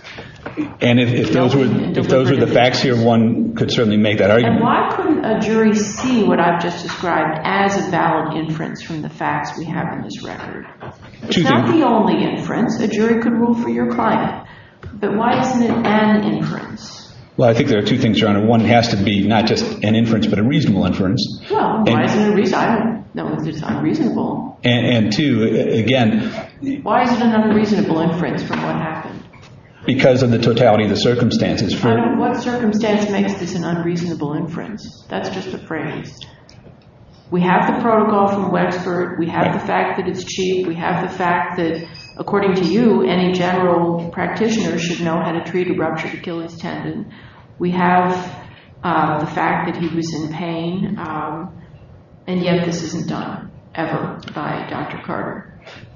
And if those were the facts here, one could certainly make that argument. Why couldn't a jury see what I've just described as a valid inference from the facts we have in this record? It's not the only inference. A jury could rule for your client. But why isn't it an inference? Well, I think there are two things, John. One has to be not just an inference, but a reasonable inference. Well, why is it unreasonable? And two, again. Why is it an unreasonable inference from what happened? Because of the totality of the circumstances. What circumstance makes this an unreasonable inference? That's just a phrase. We have the protocol from Westford. We have the fact that it's cheap. We have the fact that, according to you, any general practitioner should know how to treat a ruptured Achilles tendon. We have the fact that he was in pain. And, yes, this isn't done, ever, by Dr. Carter.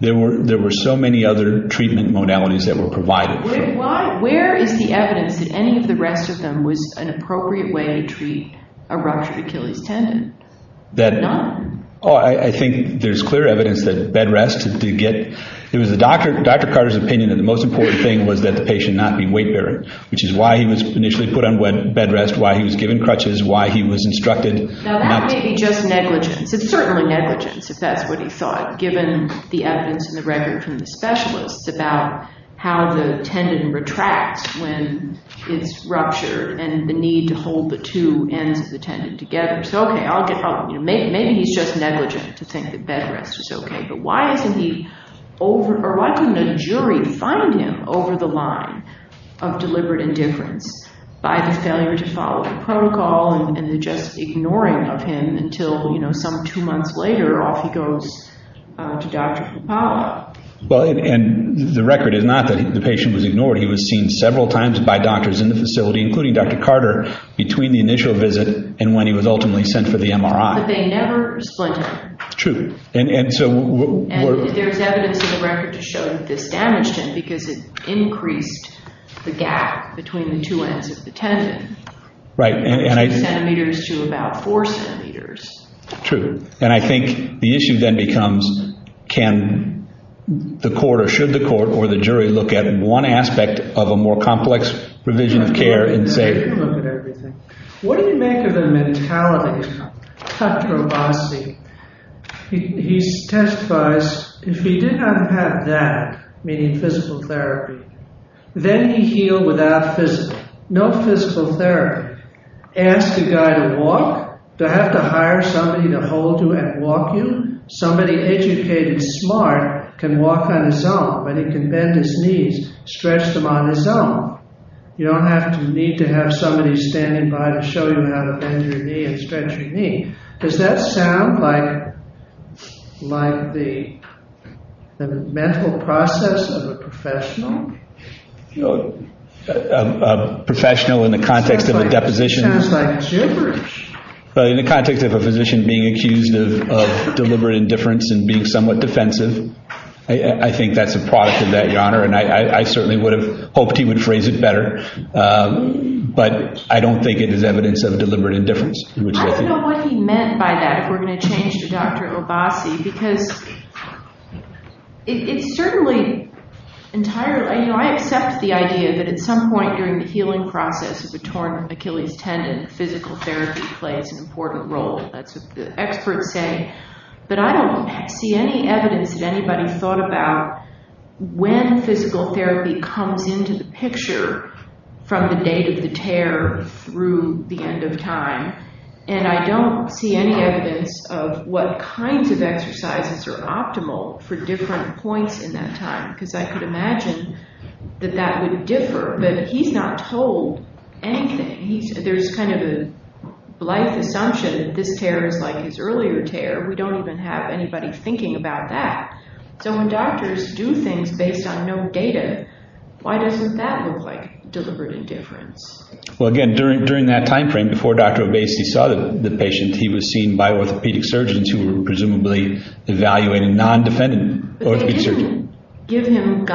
There were so many other treatment modalities that were provided. Where is the evidence that any of the rest of them was an appropriate way to treat a ruptured Achilles tendon? None. Oh, I think there's clear evidence that bed rest is to get. It was Dr. Carter's opinion that the most important thing was that the patient not be weight-bearing, which is why he was initially put on bed rest, why he was given crutches, why he was instructed. Now, that may be just negligence. It's certainly negligence, if that's what he thought, given the evidence and the record from the specialist about how the tendon retracts when it's ruptured and the need to hold the two ends of the tendon together. Maybe he's just negligent to think that bed rest is okay. But why isn't he, or why couldn't a jury find him over the line of deliberate indifference by the failure to follow protocol and the just ignoring of him until some two months later, off he goes to Dr. Capallo? Well, and the record is not that the patient was ignored. He was seen several times by doctors in the facility, including Dr. Carter, between the initial visit and when he was ultimately sent for the MRI. But they never split him. True. And there's evidence in the record to show that this damaged him because it increased the gap between the two ends of the tendon. Right. Centimeters to about four centimeters. True. And I think the issue then becomes can the court, or should the court, or the jury look at one aspect of a more complex provision of care in favor? What do you make of the mentality cut from unseen? He testifies, if he did not have that, meaning physical therapy, then he healed without physical, no physical therapy. Ask a guy to walk? To have to hire somebody to hold you and walk you? Somebody educated and smart can walk on his own, but he can bend his knees, stretch them on his own. You don't need to have somebody standing by to show you how to bend your knee and stretch your knee. Does that sound like the mental process of a professional? A professional in the context of a deposition? Sounds like gibberish. In the context of a physician being accused of deliberate indifference and being somewhat defensive, I think that's a cross in that genre, and I certainly would have hoped he would phrase it better. But I don't think it is evidence of deliberate indifference. I don't know what he meant by that. We're going to change to Dr. Robocci because it certainly entirely, I accept the idea that at some point during the healing process of a torn Achilles tendon, physical therapy plays an important role. That's what the experts say. But I don't see any evidence that anybody has thought about when physical therapy comes into the picture from the day of the tear through the end of time. And I don't see any evidence of what kinds of exercises are optimal for different points in that time because I could imagine that that would differ. But he's not told anything. There's kind of a life assumption that this tear is like his earlier tear. We don't even have anybody thinking about that. So when doctors do things based on no data, why doesn't that look like deliberate indifference? Well, again, during that time frame, before Dr. Obasi saw the patient, he was seen by orthopedic surgeons who were presumably evaluating non-defendant orthopedic surgeons. I'm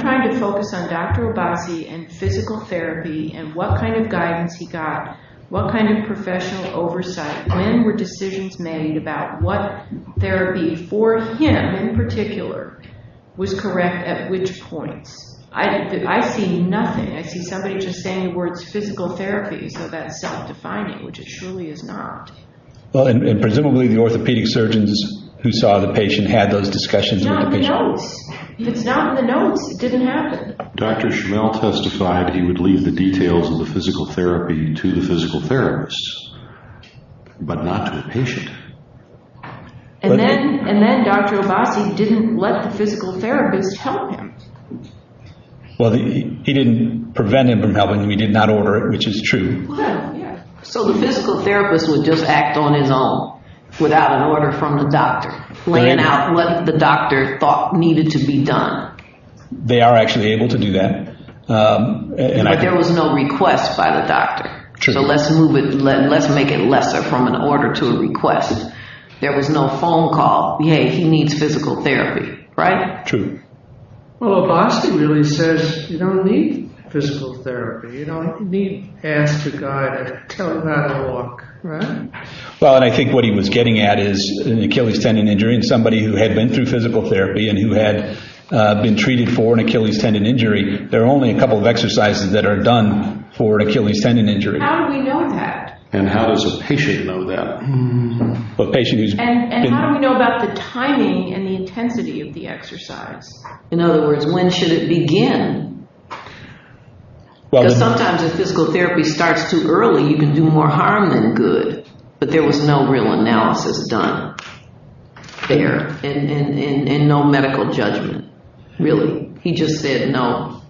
trying to focus on Dr. Obasi and physical therapy and what kind of guidance he got, what kind of professional oversight. When were decisions made about what therapy for him in particular was correct at which point? I see nothing. I see somebody just saying the word physical therapy because that's self-defining, which it surely is not. And presumably the orthopedic surgeons who saw the patient had those discussions with the patient. It's not in the notes. It's not in the notes. It didn't happen. Dr. Chanel testified he would leave the details of the physical therapy to the physical therapist, but not to the patient. And then Dr. Obasi didn't let the physical therapist tell him. Well, he didn't prevent him from telling him. He did not order it, which is true. So the physical therapist would just act on his own without an order from the doctor. Laying out what the doctor thought needed to be done. They are actually able to do that. Like there was no request by the doctor. So let's make it lesser from an order to a request. There was no phone call. Yay, he needs physical therapy. Right? True. Well, Obasi really says you don't need physical therapy. You don't need hands to guide it. It's not a walk. Well, I think what he was getting at is Achilles tendon injury. Somebody who had been through physical therapy and who had been treated for an Achilles tendon injury, there are only a couple of exercises that are done for Achilles tendon injury. How do we know that? And how does a patient know that? And how do we know about the timing and the intensity of the exercise? In other words, when should it begin? Because sometimes when physical therapy starts too early, you can do more harm than good. But there was no real analysis done there. And no medical judgment, really. He just said no.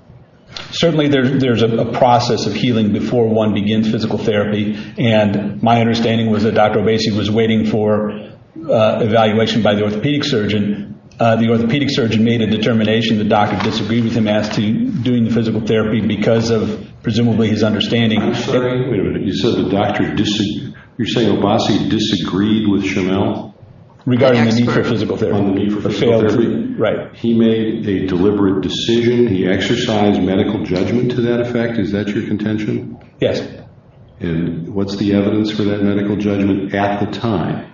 Certainly there's a process of healing before one begins physical therapy. And my understanding was that Dr. Obasi was waiting for evaluation by the orthopedic surgeon. The orthopedic surgeon made a determination. The doctor disagreed with him as to doing the physical therapy because of presumably his understanding. You're saying Obasi disagreed with Chanel? Regarding the need for physical therapy. He made a deliberate decision. He exercised medical judgment to that effect. Is that your contention? Yes. And what's the evidence for that medical judgment at the time?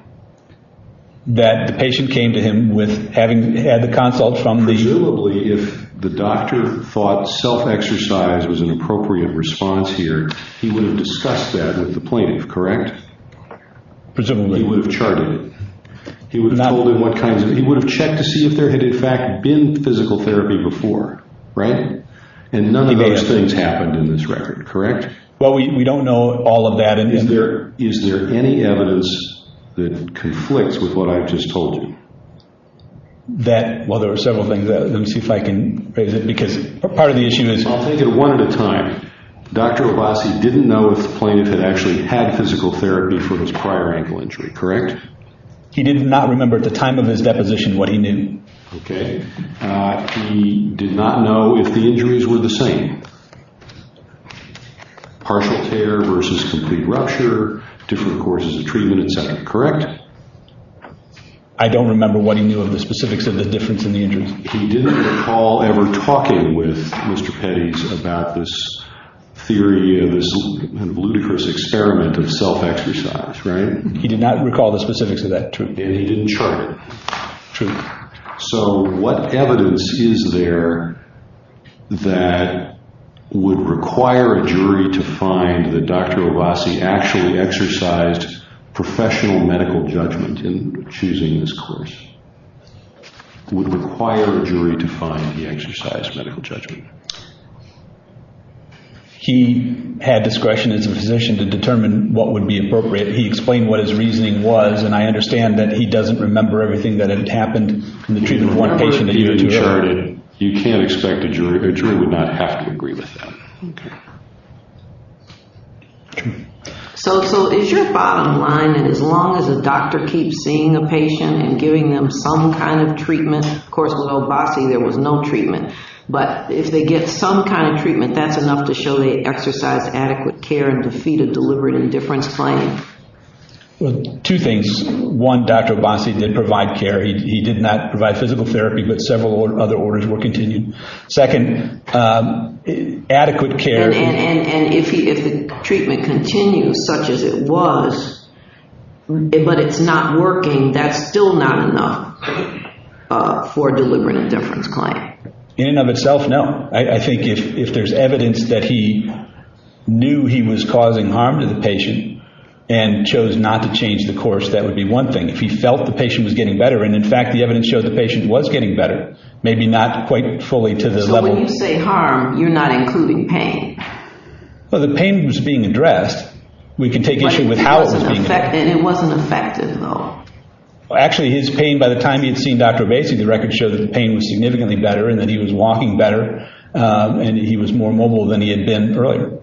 That the patient came to him with having had the consult from the doctor. Presumably if the doctor thought self-exercise was an appropriate response here, he would have discussed that with the plaintiff, correct? Presumably. He would have charted it. He would have checked to see if there had, in fact, been physical therapy before, right? And none of those things happened in this record, correct? Well, we don't know all of that. Is there any evidence that conflicts with what I've just told you? Well, there are several things. Let me see if I can raise it because part of the issue is- I'll take it one at a time. Dr. Obasi didn't know if the plaintiff had actually had physical therapy for his prior ankle injury, correct? He did not remember at the time of his deposition what he knew. Okay. He did not know if the injuries were the same. Partial care versus complete rupture, different courses of treatment, is that correct? I don't remember what he knew of the specifics of the difference in the injuries. He didn't recall ever talking with Mr. Pettis about this theory of this ludicrous experiment of self-exercise, right? He did not recall the specifics of that, true. And he didn't chart it. True. So what evidence is there that would require a jury to find that Dr. Obasi actually exercised professional medical judgment in choosing this course? Would require a jury to find he exercised medical judgment? He had discretion as a physician to determine what would be appropriate. If he explained what his reasoning was, and I understand that he doesn't remember everything that had happened from the treatment of one patient to the other. You can't expect a jury. A jury would not have to agree with that. Okay. So is your bottom line that as long as a doctor keeps seeing a patient and giving them some kind of treatment, of course, with Obasi there was no treatment, but if they get some kind of treatment, that's enough to show they exercised adequate care and to see the deliberate indifference claim? Well, two things. One, Dr. Obasi did provide care. He did not provide physical therapy, but several other orders were continued. Second, adequate care. And if the treatment continues such as it was, but it's not working, that's still not enough for a deliberate indifference claim? In and of itself, no. I think if there's evidence that he knew he was causing harm to the patient and chose not to change the course, that would be one thing. If he felt the patient was getting better, and, in fact, the evidence showed the patient was getting better, maybe not quite fully to the level. When you say harm, you're not including pain. Well, the pain was being addressed. We can take issue with how it was being addressed. It wasn't affected at all. Actually, his pain, by the time he had seen Dr. Obasi, the records showed that the pain was significantly better and that he was walking better and that he was more mobile than he had been earlier.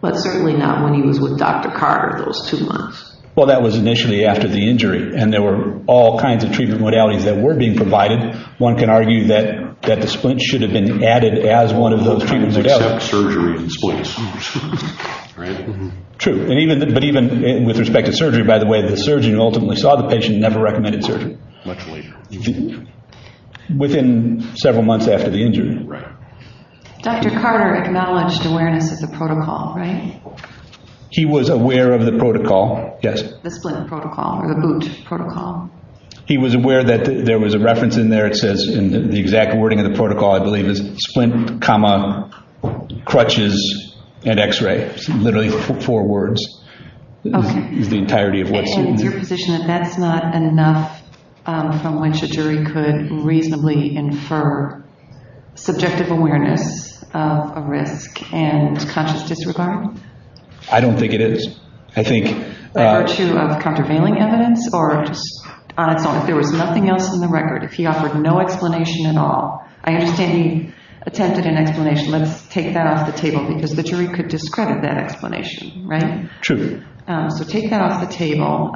But certainly not when he was with Dr. Carter those two months. Well, that was initially after the injury. And there were all kinds of treatment modalities that were being provided. One can argue that the splints should have been added as one of those treatment modalities. Surgery and splints. True. But even with respect to surgery, by the way, the surgeon who ultimately saw the patient never recommended surgery. Much later. Within several months after the injury. Dr. Carter acknowledged awareness of the protocol, right? He was aware of the protocol, yes. The splint protocol or the boot protocol. He was aware that there was a reference in there that says, and the exact wording of the protocol, I believe, is splint, comma, crutches, and x-ray. Literally four words. Okay. The entirety of what's in there. And that's not enough from which a jury could reasonably infer subjective awareness of a risk. And is it a conscious judgment? I don't think it is. I think... Over to a countervailing evidence? Or just honest evidence? There was nothing else in the record. He offered no explanation at all. I understand he attempted an explanation. Let's take that off the table. Because the jury could discredit that explanation, right? True. So take that off the table.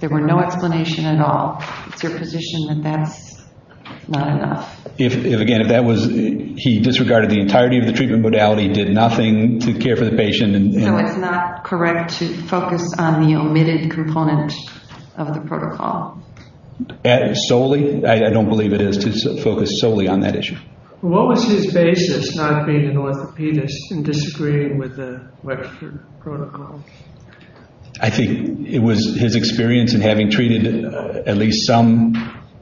There were no explanations at all. If you're a physician, then that's not enough. If, again, that was... He disregarded the entirety of the treatment modality, did nothing to care for the patient. So it's not correct to focus on the omitted components of the protocol? Solely? I don't believe it is to focus solely on that issue. What was his basis not being an orthopedist and disagreeing with the lecture protocols? I think it was his experience in having treated at least some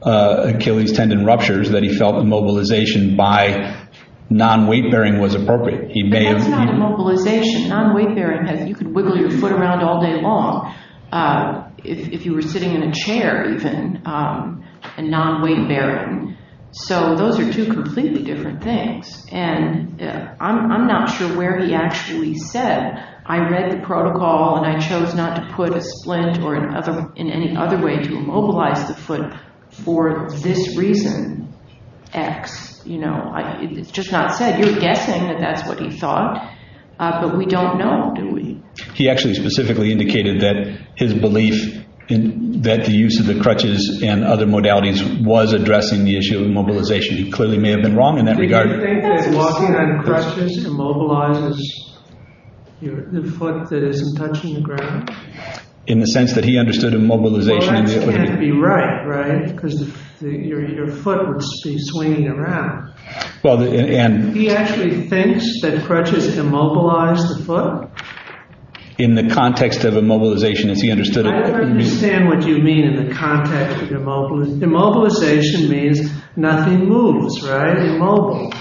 Achilles tendon ruptures that he felt immobilization by non-weight-bearing was appropriate. Immobilization, non-weight-bearing, you could wiggle your foot around all day long. If you were sitting in a chair, even, and non-weight-bearing. So those are two completely different things. And I'm not sure where he actually said, I read the protocol and I chose not to put a splint or in any other way to immobilize the foot for this reason, X. You know, it's just not said. You're guessing that that's what he thought. But we don't know, do we? He actually specifically indicated that his belief that the use of the crutches and other modalities was addressing the issue of immobilization. He clearly may have been wrong in that regard. Do you think that walking on crutches immobilizes the foot that isn't touching the ground? In the sense that he understood immobilization. Well, that would have to be right, right? Because your foot would be swinging around. He actually thinks that crutches immobilize the foot? In the context of immobilization, if he understood it. I understand what you mean in the context of immobilization. Immobilization means nothing moves, right? Immobile.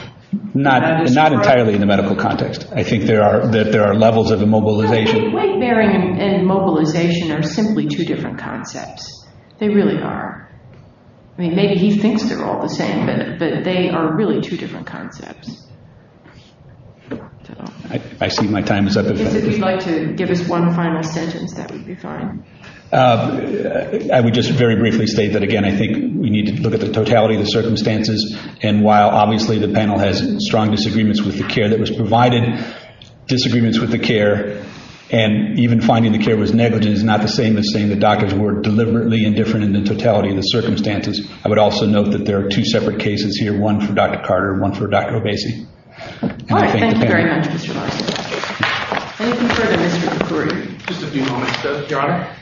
Not entirely in the medical context. I think there are levels of immobilization. Weight-bearing and immobilization are simply two different contexts. They really are. Maybe he thinks they're all the same, but they are really two different contexts. I see my time is up. If you'd like to give us one final sentence, that would be fine. I would just very briefly state that, again, I think we need to look at the totality of the circumstances. And while obviously the panel has strong disagreements with the care that was provided, disagreements with the care, and even finding the care was negative is not the same as saying the doctors were deliberately indifferent in the totality of the circumstances. I would also note that there are two separate cases here, one for Dr. Carter and one for Dr. Obasi. All right. Thank you very much. Let's move on to the next group of three. Just a few moments. Your Honor.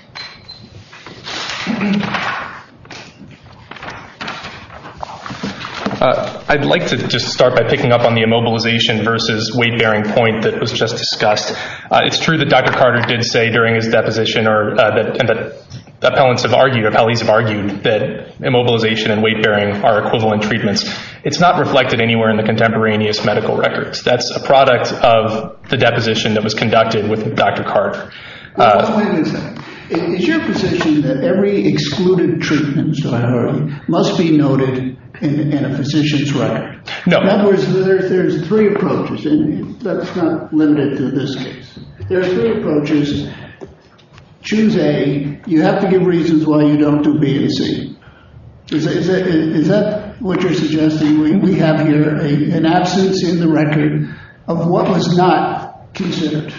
I'd like to just start by picking up on the immobilization versus weight-bearing point that was just discussed. It's true that Dr. Carter did say during his deposition, and the appellants have argued, appellees have argued, that immobilization and weight-bearing are equivalent treatments. It's not reflected anywhere in the contemporaneous medical records. That's a product of the deposition that was conducted with Dr. Carter. I was wondering, is your position that every excluded treatment, Your Honor, must be noted in a physician's record? No. In other words, there's three approaches. That's not limited to this case. There's three approaches. Choose A. You have to give reasons why you don't do B and C. Is that what you're suggesting? We have here an absence in the record of what was not considered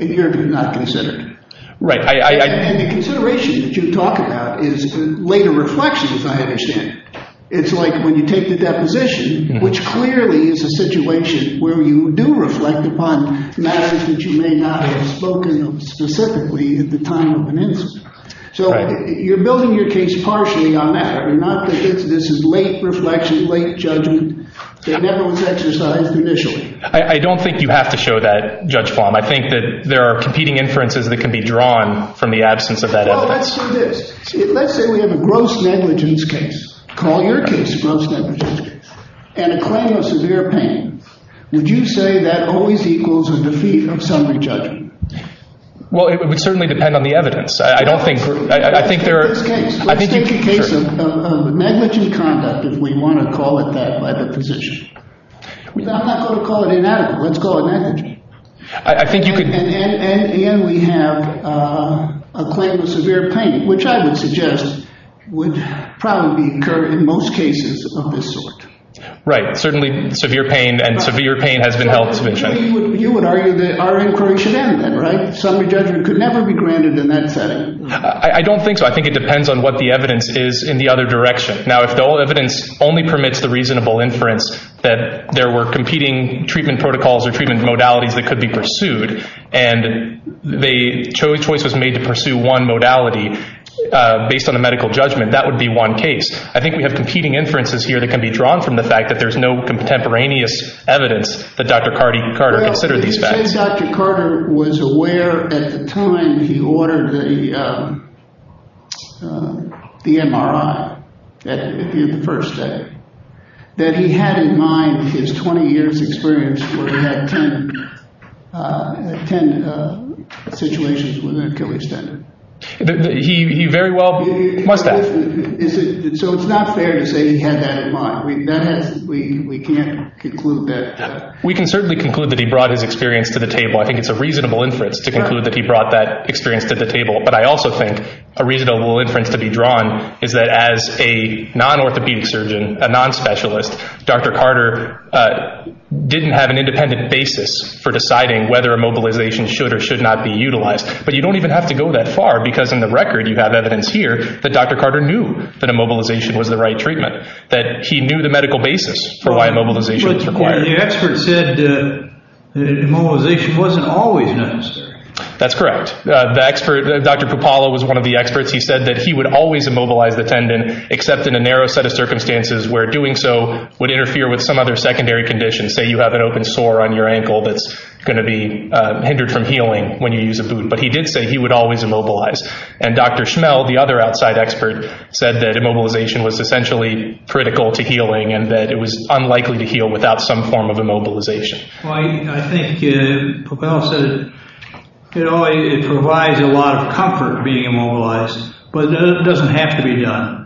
and here did not consider? Right. And the consideration that you're talking about is the weight of reflection, if I understand it. It's like when you take the deposition, which clearly is a situation where you do reflect upon matters that you may not have spoken of specifically at the time of an incident. So you're building your case partially on that and not that this is late reflection, late judgment that never was exercised initially. I don't think you have to show that, Judge Fahm. I think that there are competing inferences that can be drawn from the absence of that evidence. Well, let's say this. Call your case gross negligence and a claim of severe pain. Would you say that always equals a defeat of summary judgment? Well, it would certainly depend on the evidence. I don't think. I think there are. Let's take the case of negligent conduct if we want to call it that by deposition. We don't have to call it inadequate. Let's call it negligent. And, again, we have a claim of severe pain, which I would suggest would probably be incurred in most cases of this sort. Right. Certainly severe pain and severe pain has been held to the check. You would argue that our inquiry should end there, right? Summary judgment could never be granted in that setting. I don't think so. I think it depends on what the evidence is in the other direction. Now, if the evidence only permits the reasonable inference that there were competing treatment protocols or treatment modalities that could be pursued and the choice was made to pursue one modality based on a medical judgment, that would be one case. I think we have competing inferences here that can be drawn from the fact that there's no contemporaneous evidence that Dr. Carter considered these facts. The way Dr. Carter was aware at the time he ordered the MRI in the first day, that he had in mind his 20 years' experience where he had 10 situations where there could be standard. He very well must have. So it's not fair to say he had that in mind. We can't conclude that. We can certainly conclude that he brought his experience to the table. I think it's a reasonable inference to conclude that he brought that experience to the table. But I also think a reasonable inference to be drawn is that as a non-orthopedic surgeon, a non-specialist, Dr. Carter didn't have an independent basis for deciding whether immobilization should or should not be utilized. But you don't even have to go that far because in the record you have evidence here that Dr. Carter knew that immobilization was the right treatment, that he knew the medical basis for why immobilization was required. But the expert said that immobilization wasn't always necessary. That's correct. The expert, Dr. Pupala, was one of the experts. He said that he would always immobilize the tendon except in a narrow set of circumstances where doing so would interfere with some other secondary condition. Say you have an open sore on your ankle that's going to be hindered from healing when you use a boot. But he did say he would always immobilize. And Dr. Schmel, the other outside expert, said that immobilization was essentially critical to healing and that it was unlikely to heal without some form of immobilization. I think Pupala said it always provides a lot of comfort being immobilized, but it doesn't have to be done.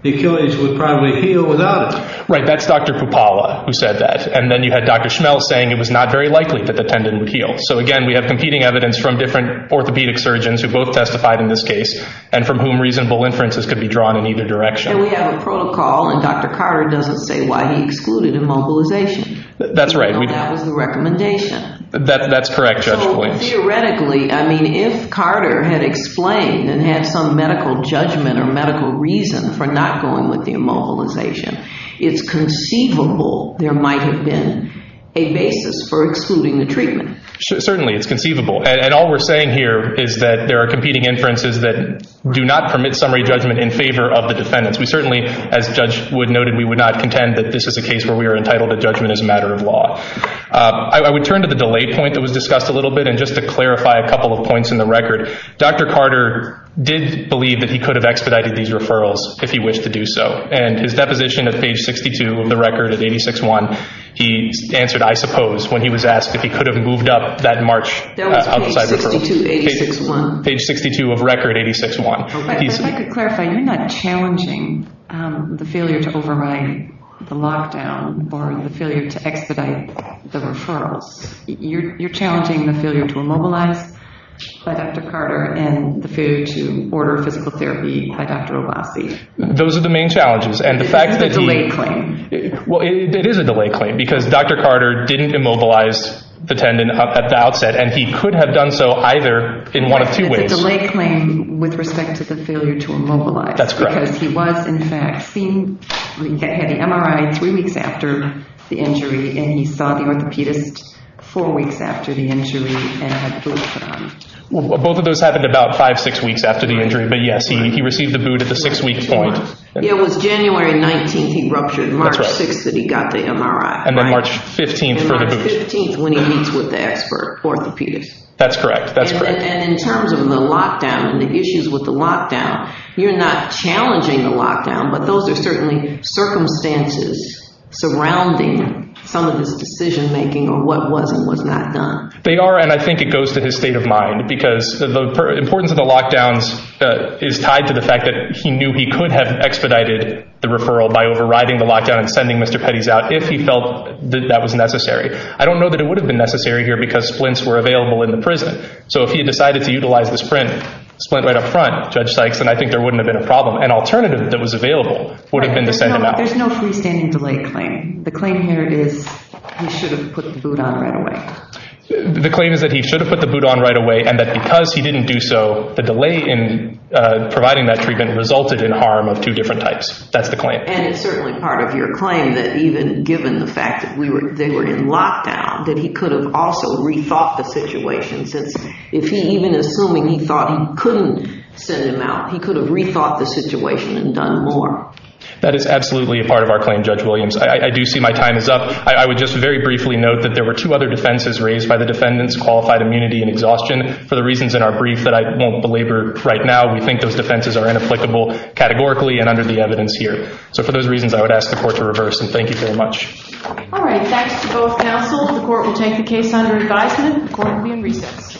The Achilles would probably heal without it. Right. That's Dr. Pupala who said that. And then you had Dr. Schmel saying it was not very likely that the tendon healed. So, again, we have competing evidence from different orthopedic surgeons who both testified in this case and from whom reasonable inferences could be drawn in either direction. And we have a protocol, and Dr. Carter doesn't say why he excluded immobilization. That's right. That was the recommendation. That's correct, Judge Williams. Theoretically, I mean, if Carter had explained and had some medical judgment or medical reason for not going with the immobilization, it's conceivable there might have been a basis for excluding the treatment. Certainly, it's conceivable. And all we're saying here is that there are competing inferences that do not permit summary judgment in favor of the defendants. We certainly, as Judge Wood noted, we would not contend that this is a case where we are entitled to judgment as a matter of law. I would turn to the delay point that was discussed a little bit, and just to clarify a couple of points in the record, Dr. Carter did believe that he could have expedited these referrals if he wished to do so. And his deposition of page 62 of the record at 86-1, he answered, I suppose, when he was asked if he could have moved up that march outside the referral. Page 62 of 86-1. Page 62 of record 86-1. I'd like to clarify, you're not challenging the failure to override the lockdown or the failure to expedite the referrals. You're challenging the failure to immobilize by Dr. Carter and the failure to order physical therapy by Dr. Abbasi. Those are the main challenges. It's a delay claim. Well, it is a delay claim because Dr. Carter didn't immobilize the defendant at the outset, and he could have done so either in one of two ways. It's a delay claim with respect to the failure to immobilize. That's correct. Because he was, in fact, seen, had an MRI three weeks after the injury, and he saw the orthopedic four weeks after the injury and had boots on. Well, both of those happened about five, six weeks after the injury. But, yes, he received the boot at the six-week point. Yeah, it was January 19th he ruptured, March 6th that he got the MRI. And then March 15th for the boot. And March 15th when he meets with the expert for orthopedics. That's correct. And in terms of the lockdown and the issues with the lockdown, you're not challenging the lockdown, but those are certainly circumstances surrounding some of the decision-making of what was and was not done. They are, and I think it goes to his state of mind, because the importance of the lockdown is tied to the fact that he knew he could have expedited the referral by overriding the lockdown and sending Mr. Petty's out if he felt that that was necessary. I don't know that it would have been necessary here because splints were available in the prison. So if he had decided to utilize the splint right up front, Judge Sykes, then I think there wouldn't have been a problem. An alternative that was available would have been to send him out. There's no freestanding delay claim. The claim here is he should have put the boot on right away. The claim is that he should have put the boot on right away and that because he didn't do so, the delay in providing that treatment resulted in harm of two different types. That's the claim. And it's certainly part of your claim that even given the fact that they were in lockdown, that he could have also rethought the situation. Even assuming he thought he couldn't send him out, he could have rethought the situation and done more. That is absolutely part of our claim, Judge Williams. I do see my time is up. I would just very briefly note that there were two other defenses raised by the defendants, qualified immunity and exhaustion. For the reasons in our brief that I won't belabor right now, we think those defenses are inapplicable categorically and under the evidence here. So for those reasons, I would ask the court to reverse them. Thank you very much. All right. Thanks to both counsels. The court will take the case under advisement. Court will be in recess. Thank you.